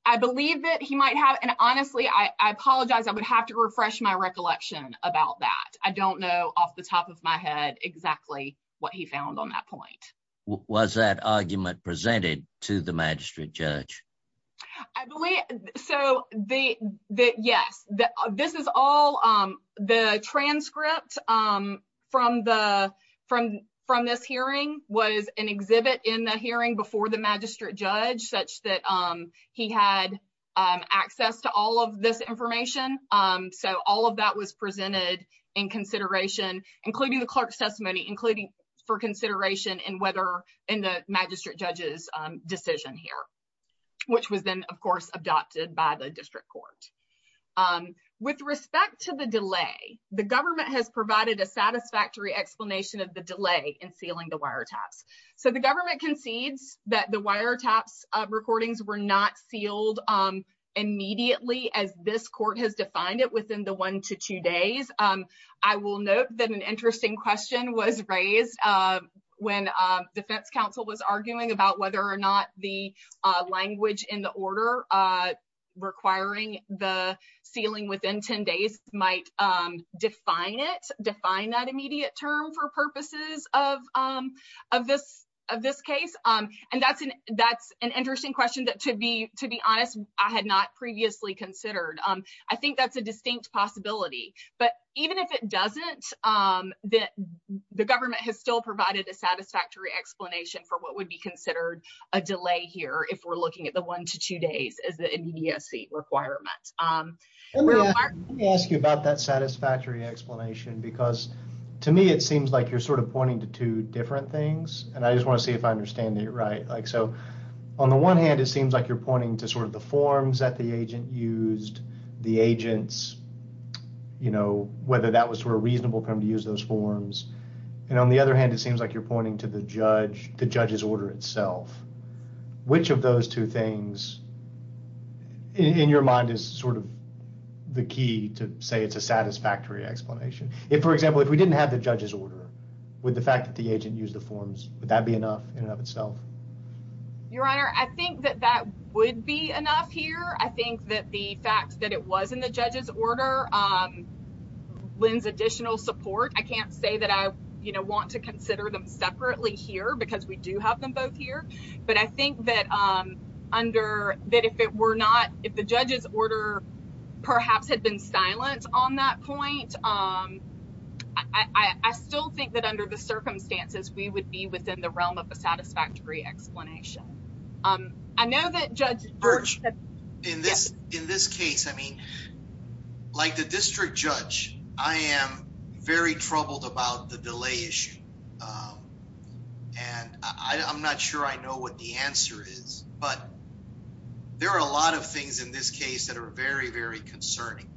I believe that he might have, and honestly, I apologize. I would have to refresh my recollection about that. I don't know off the top of my head exactly what he found on that point. Was that argument presented to the magistrate judge? I believe so. Yes, this is all the transcripts from this hearing was an exhibit in the hearing before the magistrate judge such that he had access to all of this information. All of that was presented in consideration, including the clerk's testimony, including for consideration in the magistrate judge's decision here, which was then, of course, adopted by the district court. With respect to the delay, the government has provided a satisfactory explanation of the delay in sealing the wiretaps. The government concedes that the wiretaps recordings were not sealed immediately as this court has defined it within the one to two days. I will note that an interesting question was raised when defense counsel was arguing about whether or not the language in the order requiring the sealing within 10 days might define it, define that immediate term for purposes of this case. That's an interesting question that, to be honest, I had not previously considered. I think that's a distinct possibility. Even if it doesn't, the government has still provided a satisfactory explanation for what would be considered a delay here if we're looking at the one to two days as an immediacy requirement. Let me ask you about that satisfactory explanation. To me, it seems like you're pointing to two different things. I just want to see if I understand you right. On the one hand, it seems like you're pointing to the forms that the agent used, the agents, you know, whether that was sort of reasonable for him to use those forms. And on the other hand, it seems like you're pointing to the judge, the judge's order itself. Which of those two things in your mind is sort of the key to say it's a satisfactory explanation? If, for example, if we didn't have the judge's order with the fact that the agent used the forms, would that be enough in and of itself? Your Honor, I think that that would be enough here. I think that the fact that it was in the judge's order lends additional support. I can't say that I, you know, want to consider them separately here because we do have them both here. But I think that under, that if it were not, if the judge's order perhaps had been silent on that point, I still think that under the circumstances, we would be within the realm of a satisfactory explanation. And now that Judge... Burch, in this case, I mean, like the district judge, I am very troubled about the delay issue. And I'm not sure I know what the answer is, but there are a lot of things in this case that are very, very concerning.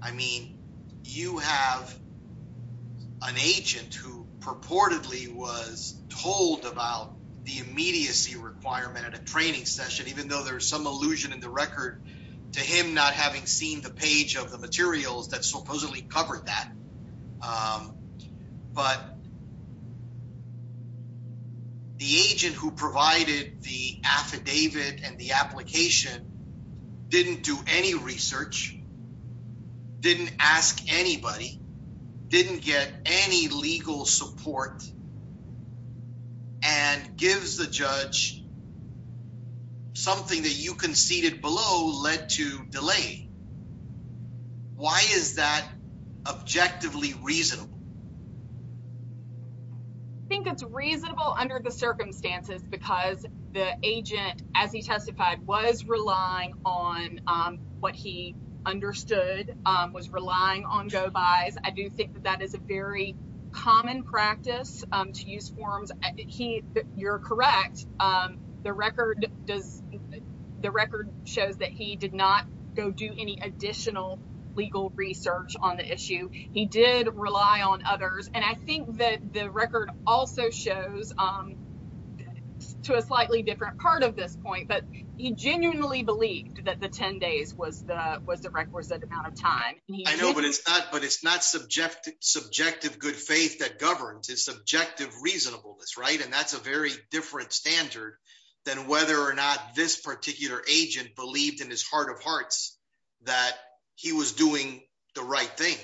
I mean, you have an agent who purportedly was told about the immediacy requirement at a training session, even though there's some allusion in the record to him not having seen the page of the materials that supposedly covered that. But the agent who provided the affidavit and the application didn't do any research, didn't ask anybody, didn't get any legal support, and gives the judge something that you conceded below led to delay. Why is that objectively reasonable? I think it's reasonable under the circumstances because the agent, as he testified, was relying on what he understood, was relying on JOE 5. I do think that is a very common practice to use forms. You're correct. The record shows that he did not go do any additional legal research on the issue. He did rely on others. And I think that the record also shows, to a slightly different part of this point, that he genuinely believed that the 10 days was the record set amount of time. I know, but it's not subjective good faith that governs. It's subjective reasonableness, right? And that's a very different standard than whether or not this particular agent believed in his heart of hearts that he was doing the right thing.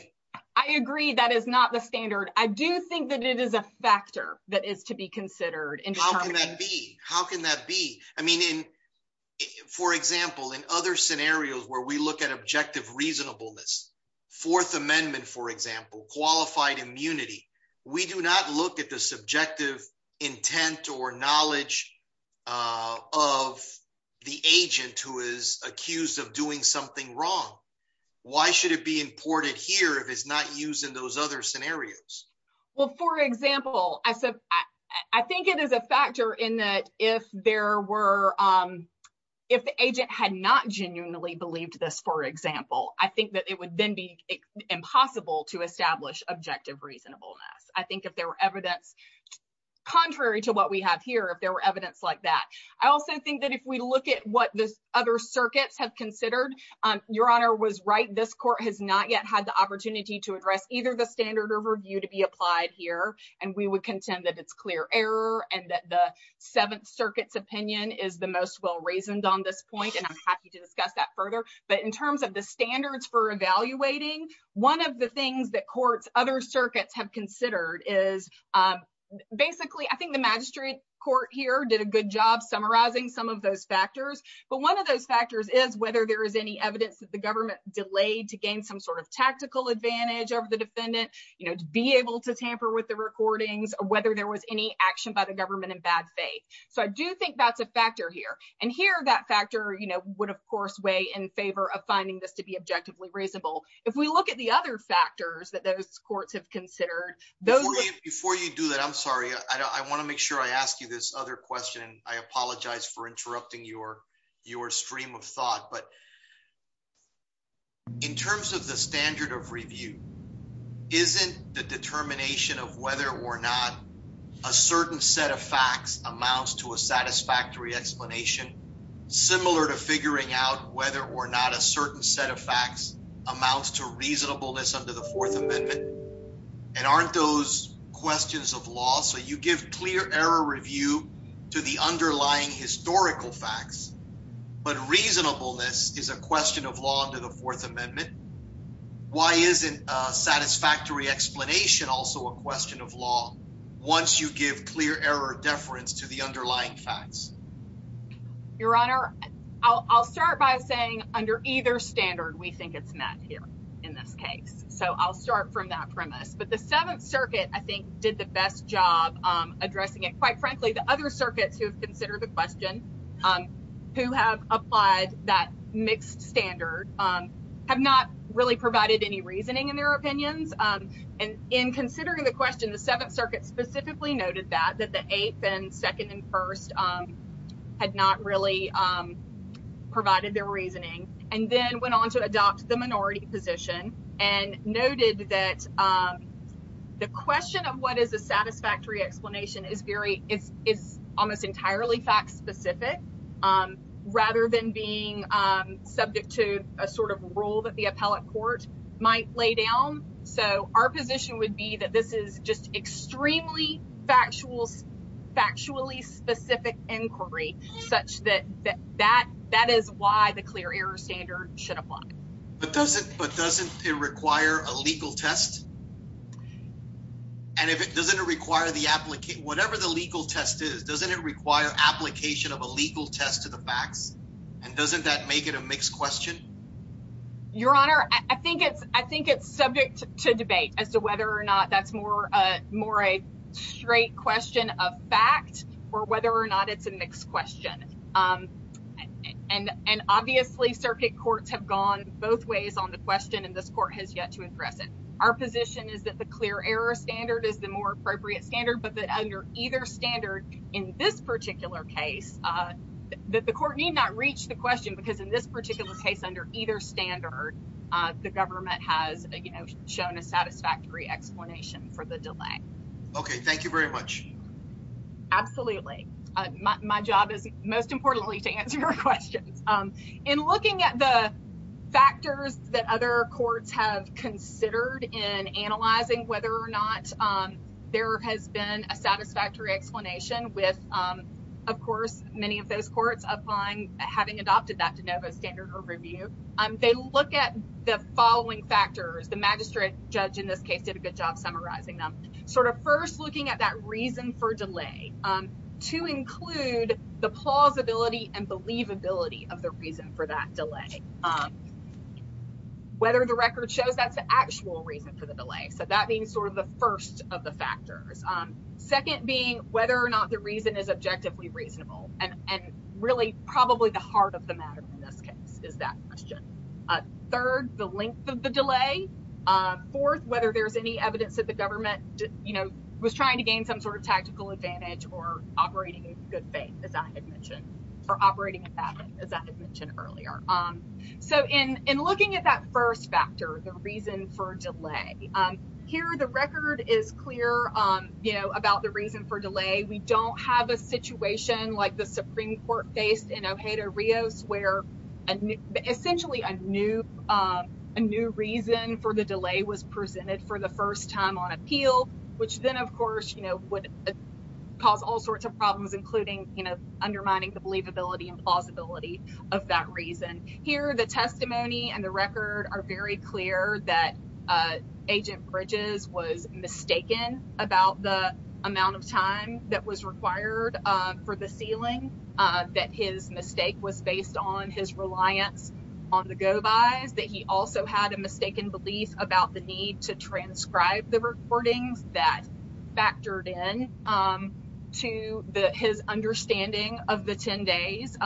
I agree. That is not the standard. I do think that it is a factor that is to be considered. How can that be? How can that be? I mean, for example, in other scenarios where we look at objective reasonableness, Fourth Amendment, for example, qualified immunity, we do not look at the subjective intent or knowledge of the agent who is accused of doing something wrong. Why should it be important here if it's not used in those other scenarios? Well, for example, I think it is a factor in that if the agent had not genuinely believed this, for example, I think that it would then be impossible to establish objective reasonableness. I think if there were evidence contrary to what we have here, if there were evidence like that. I also think that if we look at what this other circuit has considered, your honor was right. This court has not yet had the opportunity to address either the standard or review to be applied here. And we would contend that it's clear error and that the Seventh Circuit's opinion is the most well-reasoned on this point. And I'm happy to discuss that further. But in terms of the standards for evaluating, one of the things that courts, other circuits have considered is, basically, I think the magistrate court here did a good job summarizing some of those factors. But one of those factors is whether there is any evidence that the government delayed to gain some sort of tactical advantage over the defendant, you know, to be able to tamper with the recordings, whether there was any action by the government in bad faith. So I do think that's a factor here. And here, that factor, you know, would, of course, weigh in favor of finding this to be objectively reasonable. If we look at the other factors that those courts have considered, those... Before you do that, I'm sorry. I want to make sure I ask you this other question. I apologize for interrupting your stream of thought. But in terms of the standard of review, isn't the determination of whether or not a certain set of facts amounts to a satisfactory explanation similar to figuring out whether or not a certain set of facts amounts to reasonableness under the Fourth Amendment? And aren't those questions of law? So you give clear error review to the underlying historical facts, but reasonableness is a question of law under the Fourth Amendment. Why isn't a satisfactory explanation also a question of law once you give clear error deference to the underlying facts? Your Honor, I'll start by saying under either standard we think it's met here in this case. So I'll start from that premise. But the Seventh Circuit, I think, did the best job addressing it. Quite frankly, the other circuits who have considered the question, who have applied that mixed standard, have not really provided any that the Eighth and Second and First had not really provided their reasoning. And then went on to adopt the minority position and noted that the question of what is a satisfactory explanation is almost entirely fact-specific rather than being subject to a sort of rule that the appellate court might lay down. So our position would be that this is just extremely factual, factually specific inquiry such that that is why the clear error standard should apply. But doesn't it require a legal test? And if it doesn't require the application, whatever the legal test is, doesn't it require application of a legal test to the fact? And doesn't that make it a mixed question? Your Honor, I think it's subject to debate as to that's more a straight question of fact or whether or not it's a mixed question. And obviously, circuit courts have gone both ways on the question and this court has yet to address it. Our position is that the clear error standard is the more appropriate standard, but that under either standard in this particular case, that the court need not reach the question because in this particular case, under either standard, the government has shown a satisfactory explanation for the delay. Okay, thank you very much. Absolutely. My job is most importantly to answer your question. In looking at the factors that other courts have considered in analyzing whether or not there has been a satisfactory explanation with, of course, many of those courts upon having adopted that de novo standard of review, they look at the following factors. The magistrate judge in this case did a good job summarizing them. Sort of first looking at that reason for delay to include the plausibility and believability of the reason for that delay. Whether the record shows that's the actual reason for the delay. So that being sort of the first of the factors. Second being whether or not the reason is objectively reasonable and really probably the heart of the matter in this case is that question. Third, the length of the delay. Fourth, whether there's any evidence that the government, you know, was trying to gain some sort of tactical advantage or operating in good faith, as I had mentioned, or operating as I had mentioned earlier. So in looking at that first factor, the reason for delay, here the record is clear, you know, about the reason for delay. We don't have a situation like the Supreme Court faced in Ojeda-Rios where essentially a new reason for the delay was presented for the first time on appeal, which then of course, you know, would cause all sorts of problems, including, you know, undermining the believability and plausibility of that reason. Here the testimony and the record are very clear that Agent Bridges was mistaken about the amount of time that was his mistake was based on his reliance on the go-by, that he also had a mistaken belief about the need to transcribe the recording that factored in to his understanding of the 10 days.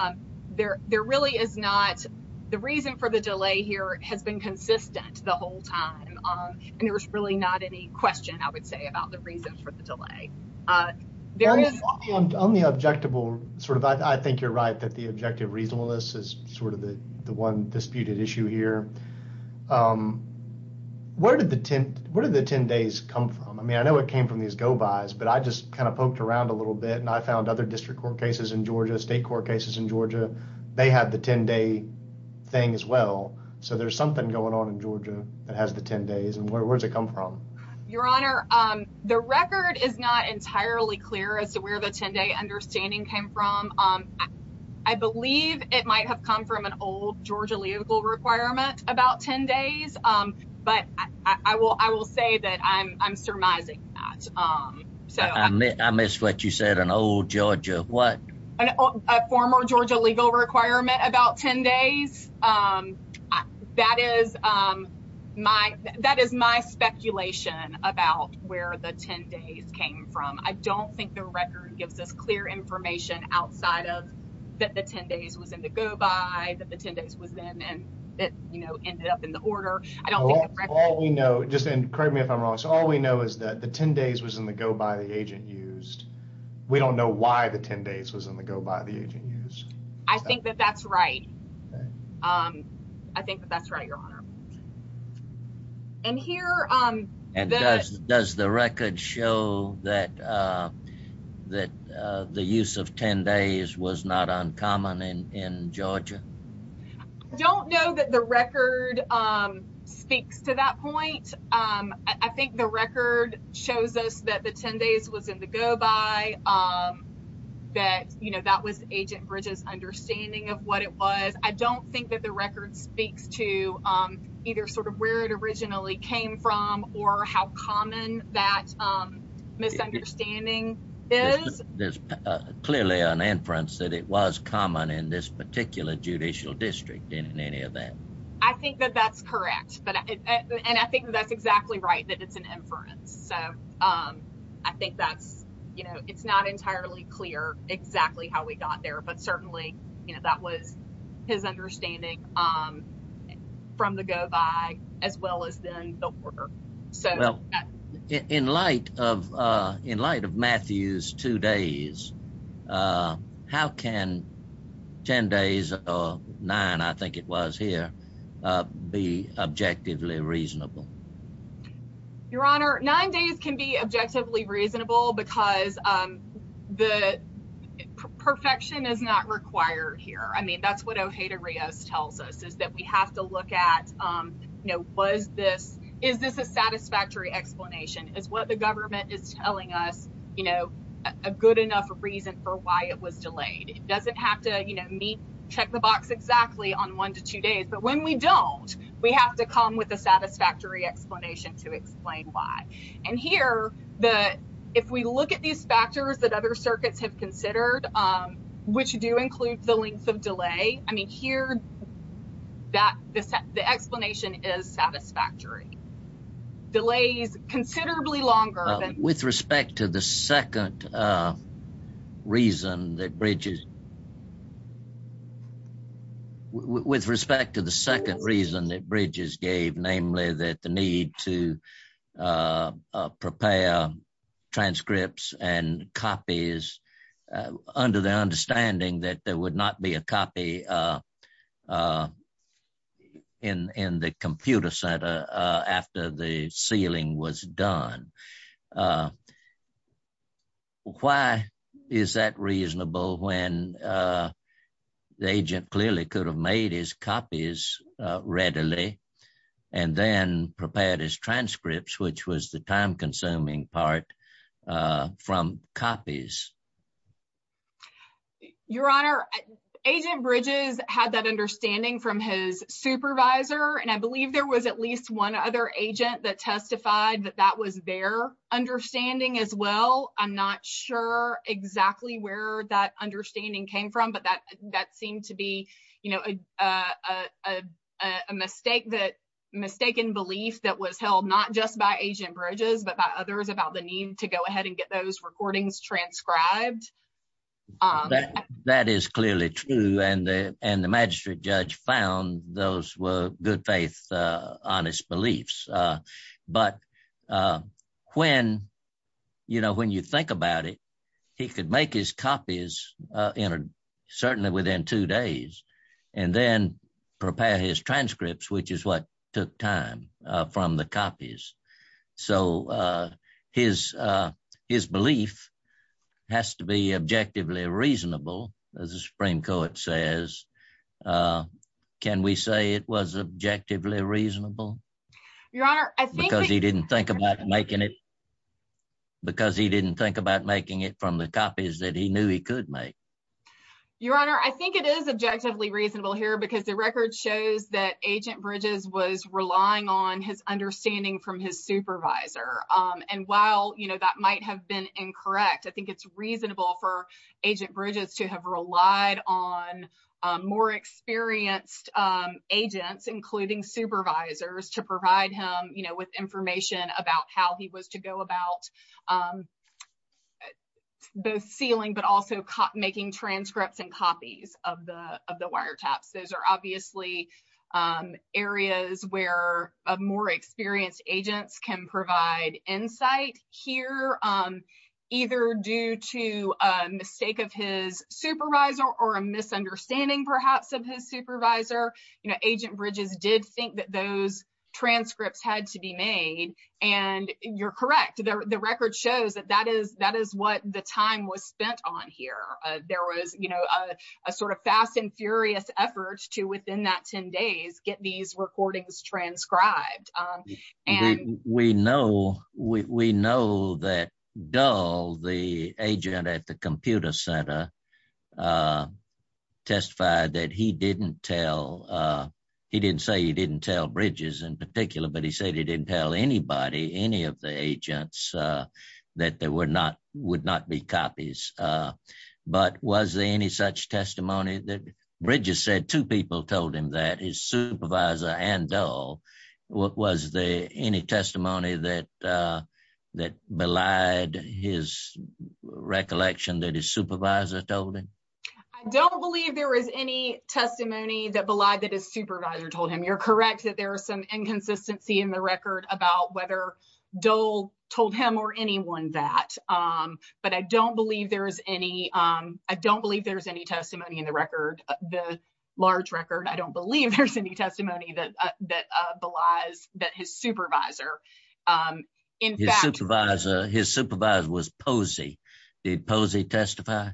There really is not, the reason for the delay here has been consistent the whole time and there's really not any question, I would say, about the reasons for the delay. There is one only objectable, sort of, I think you're right, that the objective reasonableness is sort of the one disputed issue here. Where did the 10, where did the 10 days come from? I mean, I know it came from these go-bys, but I just kind of poked around a little bit and I found other district court cases in Georgia, state court cases in Georgia, they have the 10-day thing as well. So there's something going on in Georgia that has the 10 days and where does it entirely clear as to where the 10-day understanding came from? I believe it might have come from an old Georgia legal requirement about 10 days, but I will say that I'm surmising that. I missed what you said, an old Georgia what? A former Georgia legal requirement about 10 days. Um, that is, um, my, that is my speculation about where the 10 days came from. I don't think the record gives us clear information outside of that the 10 days was in the go-by, that the 10 days was in and it, you know, ended up in the order. I don't think the record. All we know, just and correct me if I'm wrong, so all we know is that the 10 days was in the go-by the agent used. We don't know why the 10 days was in the go-by the agent used. I think that that's right. I think that's right, your honor. And here, um, and does the record show that, uh, that, uh, the use of 10 days was not uncommon in, in Georgia? I don't know that the record, um, speaks to that point. Um, I think the record shows us that the 10 days was in the go-by, um, that, you know, that was Agent Bridges' understanding of what it was. I don't think that the record speaks to, um, either sort of where it originally came from or how common that, um, misunderstanding is. There's clearly an inference that it was common in this particular judicial district, isn't any of that? I think that that's correct, but, and I think that's exactly right that it's an inference. So, um, I think that, you know, it's not entirely clear exactly how we got there, but certainly, you know, that was his understanding, um, from the go-by as well as in the order. So, in light of, uh, in light of Matthew's two days, uh, how can 10 days or nine, I think it was here, uh, be objectively reasonable? Your Honor, nine days can be objectively reasonable because, um, the perfection is not required here. I mean, that's what OJDA Rios tells us is that we have to look at, um, you know, was this, is this a satisfactory explanation? Is what the government is telling us, you know, a good enough reason for why it was delayed? It doesn't have to, you know, meet, check the box exactly on one to two days, but when we don't, we have to come with a satisfactory explanation to explain why. And here, the, if we look at these factors that other circuits have considered, um, which do include the length of delay, I mean, here, that, the, the explanation is satisfactory. Delays considerably longer. With respect to the second, uh, reason that Bridges, with respect to the second reason that Bridges gave, namely that the need to, uh, uh, prepare transcripts and copies, uh, under the understanding that there would not be a copy, uh, uh, in, in the computer center, uh, after the sealing was done. Uh, why is that reasonable when, uh, the agent clearly could have made his copies, uh, readily and then prepared his transcripts, which was the time-consuming part, uh, from copies? Your Honor, Agent Bridges had that understanding from his supervisor, and I believe there was at least one other agent that testified that that was their understanding as well. I'm not sure exactly where that understanding came from, but that, that seemed to be, you know, uh, uh, uh, uh, a mistake that, mistaken belief that was held not just by Agent Bridges, but by others about the recordings transcribed. That, that is clearly true, and the, and the magistrate judge found those were good faith, uh, honest beliefs, uh, but, uh, when, you know, when you think about it, he could make his copies, uh, in a, certainly within two days, and then prepare his transcripts, which is what took time, uh, from the copies. So, uh, his, uh, his belief has to be objectively reasonable, as the Supreme Court says. Uh, can we say it was objectively reasonable? Your Honor, I think because he didn't think about making it, because he didn't think about making it from the copies that he knew he could make. Your Honor, I think it is objectively reasonable here, because the record shows that Agent Bridges was relying on his understanding from his supervisor, um, and while, you know, that might have been incorrect, I think it's reasonable for Agent Bridges to have relied on, um, more experienced, um, agents, including supervisors, to provide him, you know, with information about how he was to go about, um, both sealing, but also making transcripts and copies of the, of the wiretaps. Those are obviously, um, areas where, uh, more experienced agents can provide insight here, um, either due to a mistake of his supervisor, or a misunderstanding, perhaps, of his supervisor. You know, Agent Bridges did think that those transcripts had to be made, and you're correct. The record shows that that is, that is what the time was spent on here. There was, you know, a sort of fast and furious effort to, within that 10 days, get these recordings transcribed, um, and... We know, we know that Dull, the agent at the computer center, uh, testified that he didn't tell, uh, he didn't say he didn't tell Bridges in particular, but he said he didn't tell anybody, any of the agents, uh, that there were not, would not be copies, uh, but was there any such testimony that Bridges said two people told him that, his supervisor and Dull? Was there any testimony that, uh, that belied his recollection that his supervisor told him? I don't believe there was any testimony that belied that his supervisor told him. You're correct that there was some inconsistency in the record about whether Dull told him or anyone that, um, but I don't believe there is any, um, I don't believe there's any testimony in the record, the large record. I don't believe there's any testimony that, uh, that, uh, belies that his supervisor, um, in fact... His supervisor, his supervisor was Posey. Did Posey testify?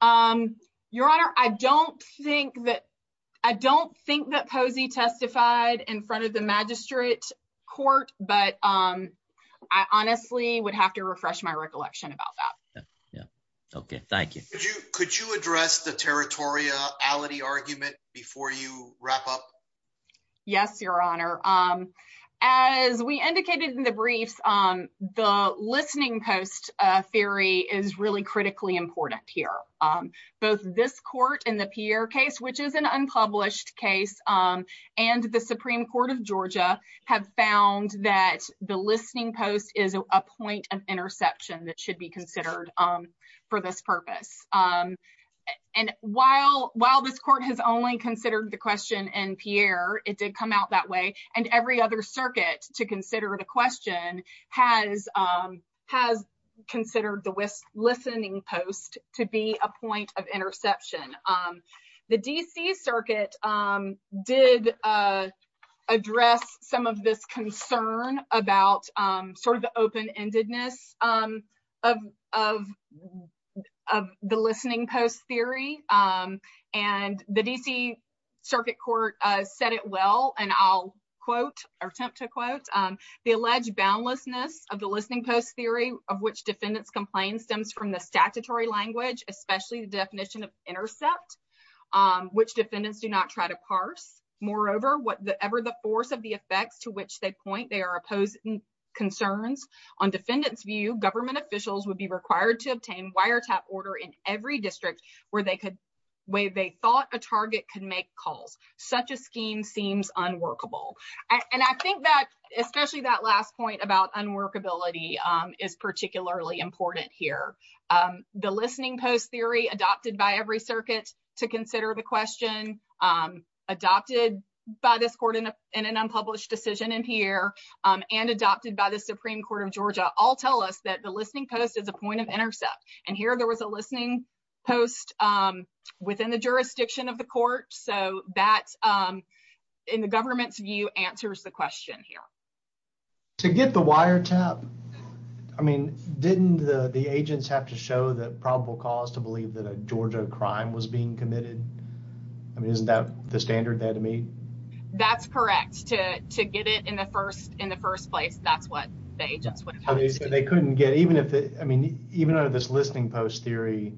Um, your honor, I don't think that, I don't think that Posey testified in front of the magistrate court, but, um, I honestly would have to refresh my recollection about that. Yeah, okay, thank you. Could you, could you address the territoriality argument before you wrap up? Yes, your honor. Um, as we indicated in the brief, um, the listening post, uh, theory is really critically important here. Um, both this court and the Pierre case, which is an unpublished case, um, and the Supreme Court of Georgia have found that the listening post is a point of interception that should be considered, um, for this purpose. Um, and while, while this court has only considered the question in Pierre, it did come out that way, and every other circuit to consider the question has, um, has considered the listening post to be a point of interception. Um, the D.C. circuit, um, did, uh, address some of this concern about, um, sort of the open-endedness, um, of, of, of the listening post theory, um, and the D.C. circuit court, uh, said it well, and I'll quote, or attempt to quote, um, the alleged boundlessness of the listening post theory of which defendants complain stems from the statutory language, especially the definition of intercepts, um, which defendants do not try to parse. Moreover, whatever the force of the effect to which they point, they are opposing concerns. On defendants' view, government officials would be required to obtain wiretap order in every district where they could, where they thought a target could make calls. Such a scheme seems unworkable, and I think that, especially that point about unworkability, um, is particularly important here. Um, the listening post theory adopted by every circuit to consider the question, um, adopted by this court in an unpublished decision in here, um, and adopted by the Supreme Court of Georgia all tell us that the listening post is a point of intercept, and here there was a listening post, um, within the jurisdiction of court, so that, um, in the government's view answers the question here. To get the wiretap, I mean, didn't the, the agents have to show the probable cause to believe that a Georgia crime was being committed? I mean, isn't that the standard they had to meet? That's correct. To, to get it in the first, in the first place, that's what they, that's what they said. They couldn't get, even if it, I mean, even under this listening post theory,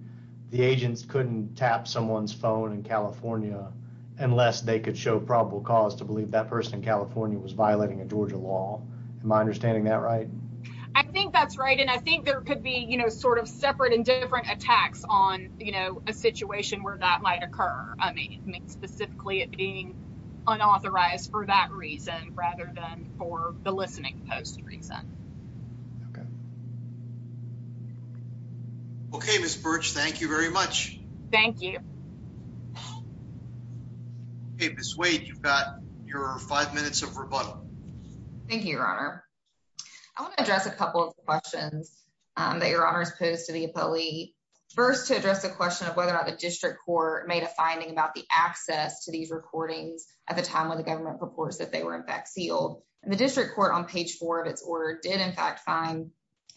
the agents couldn't tap someone's phone in California unless they could show probable cause to believe that person in California was violating a Georgia law. Am I understanding that right? I think that's right, and I think there could be, you know, sort of separate and different attacks on, you know, a situation where that might occur. I mean, specifically it being unauthorized for that reason rather than for the listening post reason. Okay. Okay, Ms. Burch, thank you very much. Thank you. Okay, Ms. Wade, you've got your five minutes of rebuttal. Thank you, Your Honor. I want to address a couple of questions, um, that Your Honor has posed to the appellee. First, to address the question of whether or not the district court made a finding about the access to these recordings at the time when the government purports that they were, in fact, sealed. The district court, on page four of its order, did, in fact, find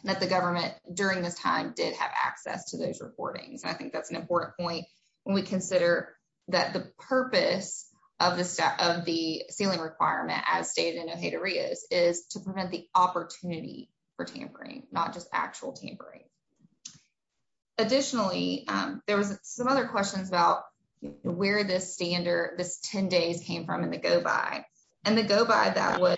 that the government, during this time, did have access to those recordings. I think that's an important point when we consider that the purpose of the sealing requirement, as stated in the haterias, is to prevent the opportunity for tampering, not just actual tampering. Additionally, um, there was some other questions about where this standard, this 10 days, came from in the go-by, and the go-by that was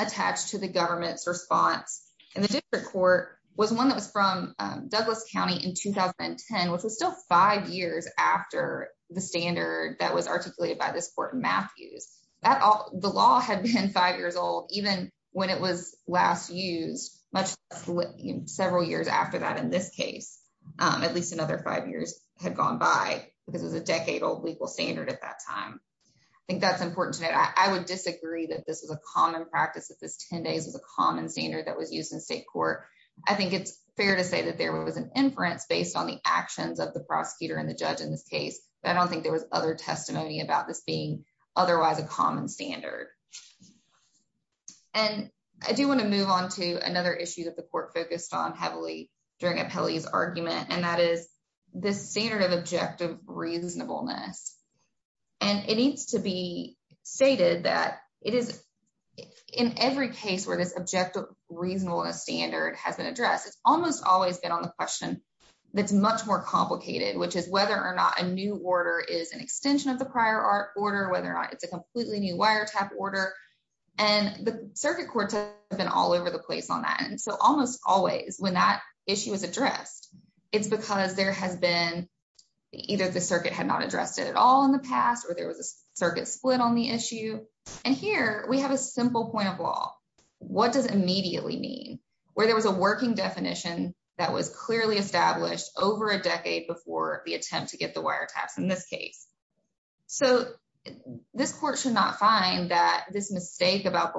attached to the government's response. And the district court was one that was from, um, Douglas County in 2010, which was still five years after the standard that was articulated by this court in Matthews. That all, the law had been five years old, even when it was last used, much less, you know, several years after that in this case. Um, at least another five years had gone by because it was a decade-old legal standard at that time. I think that's important to note. I would disagree that this is a common practice, that this 10 days was a common standard that was used in state court. I think it's fair to say that there was an inference based on the actions of the prosecutor and the judge in this case. I don't think there was other testimony about this being otherwise a common standard. And I do want to move on to another issue that the court focused on heavily during Apelli's argument, and that is the standard of objective reasonableness. And it needs to be stated that it is, in every case where this objective reasonableness standard has been addressed, it's almost always been on the question that's much more complicated, which is whether or not a new order is an extension of the prior order, whether or not it's a completely new wiretap order. And the circuit courts have been all over the place on that. And so almost always when that issue is addressed, it's because there has been either the circuit had not addressed it at all in the past, or there was a circuit split on the issue. And here we have a simple point of law. What does immediately mean? Where there was a working definition that was clearly established over a decade before the attempt to get the wiretap in this case. So this court should not find that this mistake about the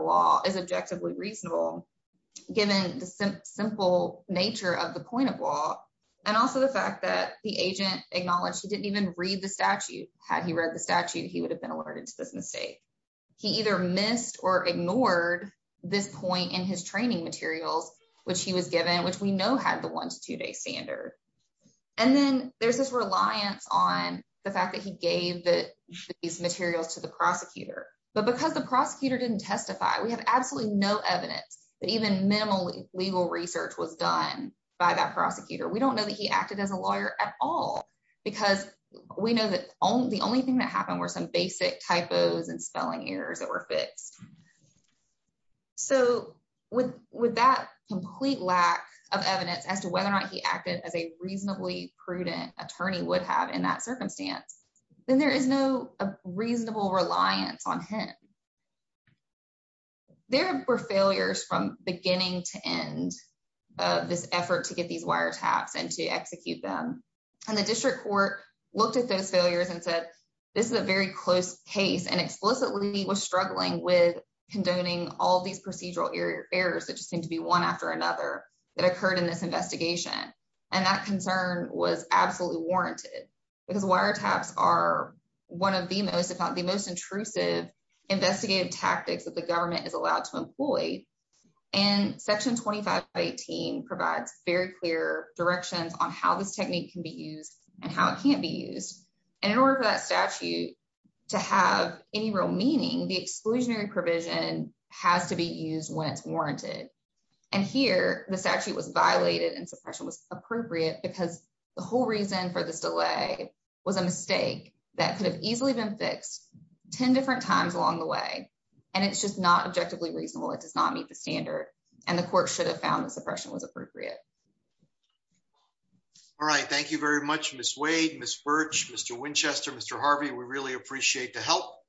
also the fact that the agent acknowledged he didn't even read the statute. Had he read the statute, he would have been alerted to this mistake. He either missed or ignored this point in his training materials, which he was given, which we know had the one to two-day standard. And then there's this reliance on the fact that he gave these materials to the prosecutor. But because the prosecutor didn't testify, we have absolutely no evidence that even minimal legal research was done by that prosecutor. We don't know that he acted as a lawyer at all, because we know that the only thing that happened were some basic typos and spelling errors that were fixed. So with that complete lack of evidence as to whether or not he acted as a reasonably prudent attorney would have in that circumstance, then there is no reasonable reliance on him. There were failures from beginning to end of this effort to get these wiretaps and to execute them. And the district court looked at those failures and said, this is a very close case and explicitly was struggling with condoning all these procedural errors that just seemed to be one after another that occurred in this investigation. And that concern was absolutely warranted, because wiretaps are one of the most, if not the most intrusive investigative tactics that the government is allowed to employ. And Section 2518 provides very clear directions on how this technique can be used and how it can't be used. And in order for that statute to have any real meaning, the exclusionary provision has to be used when it's warranted. And here, the statute was violated and suppression was appropriate because the whole reason for the delay was a mistake that could have easily been fixed 10 different times along the way. And it's just not objectively reasonable. It does not meet the standard. And the court should have found the suppression was appropriate. All right. Thank you very much, Ms. Wade, Ms. Birch, Mr. Winchester, Mr. Harvey. We really appreciate the help.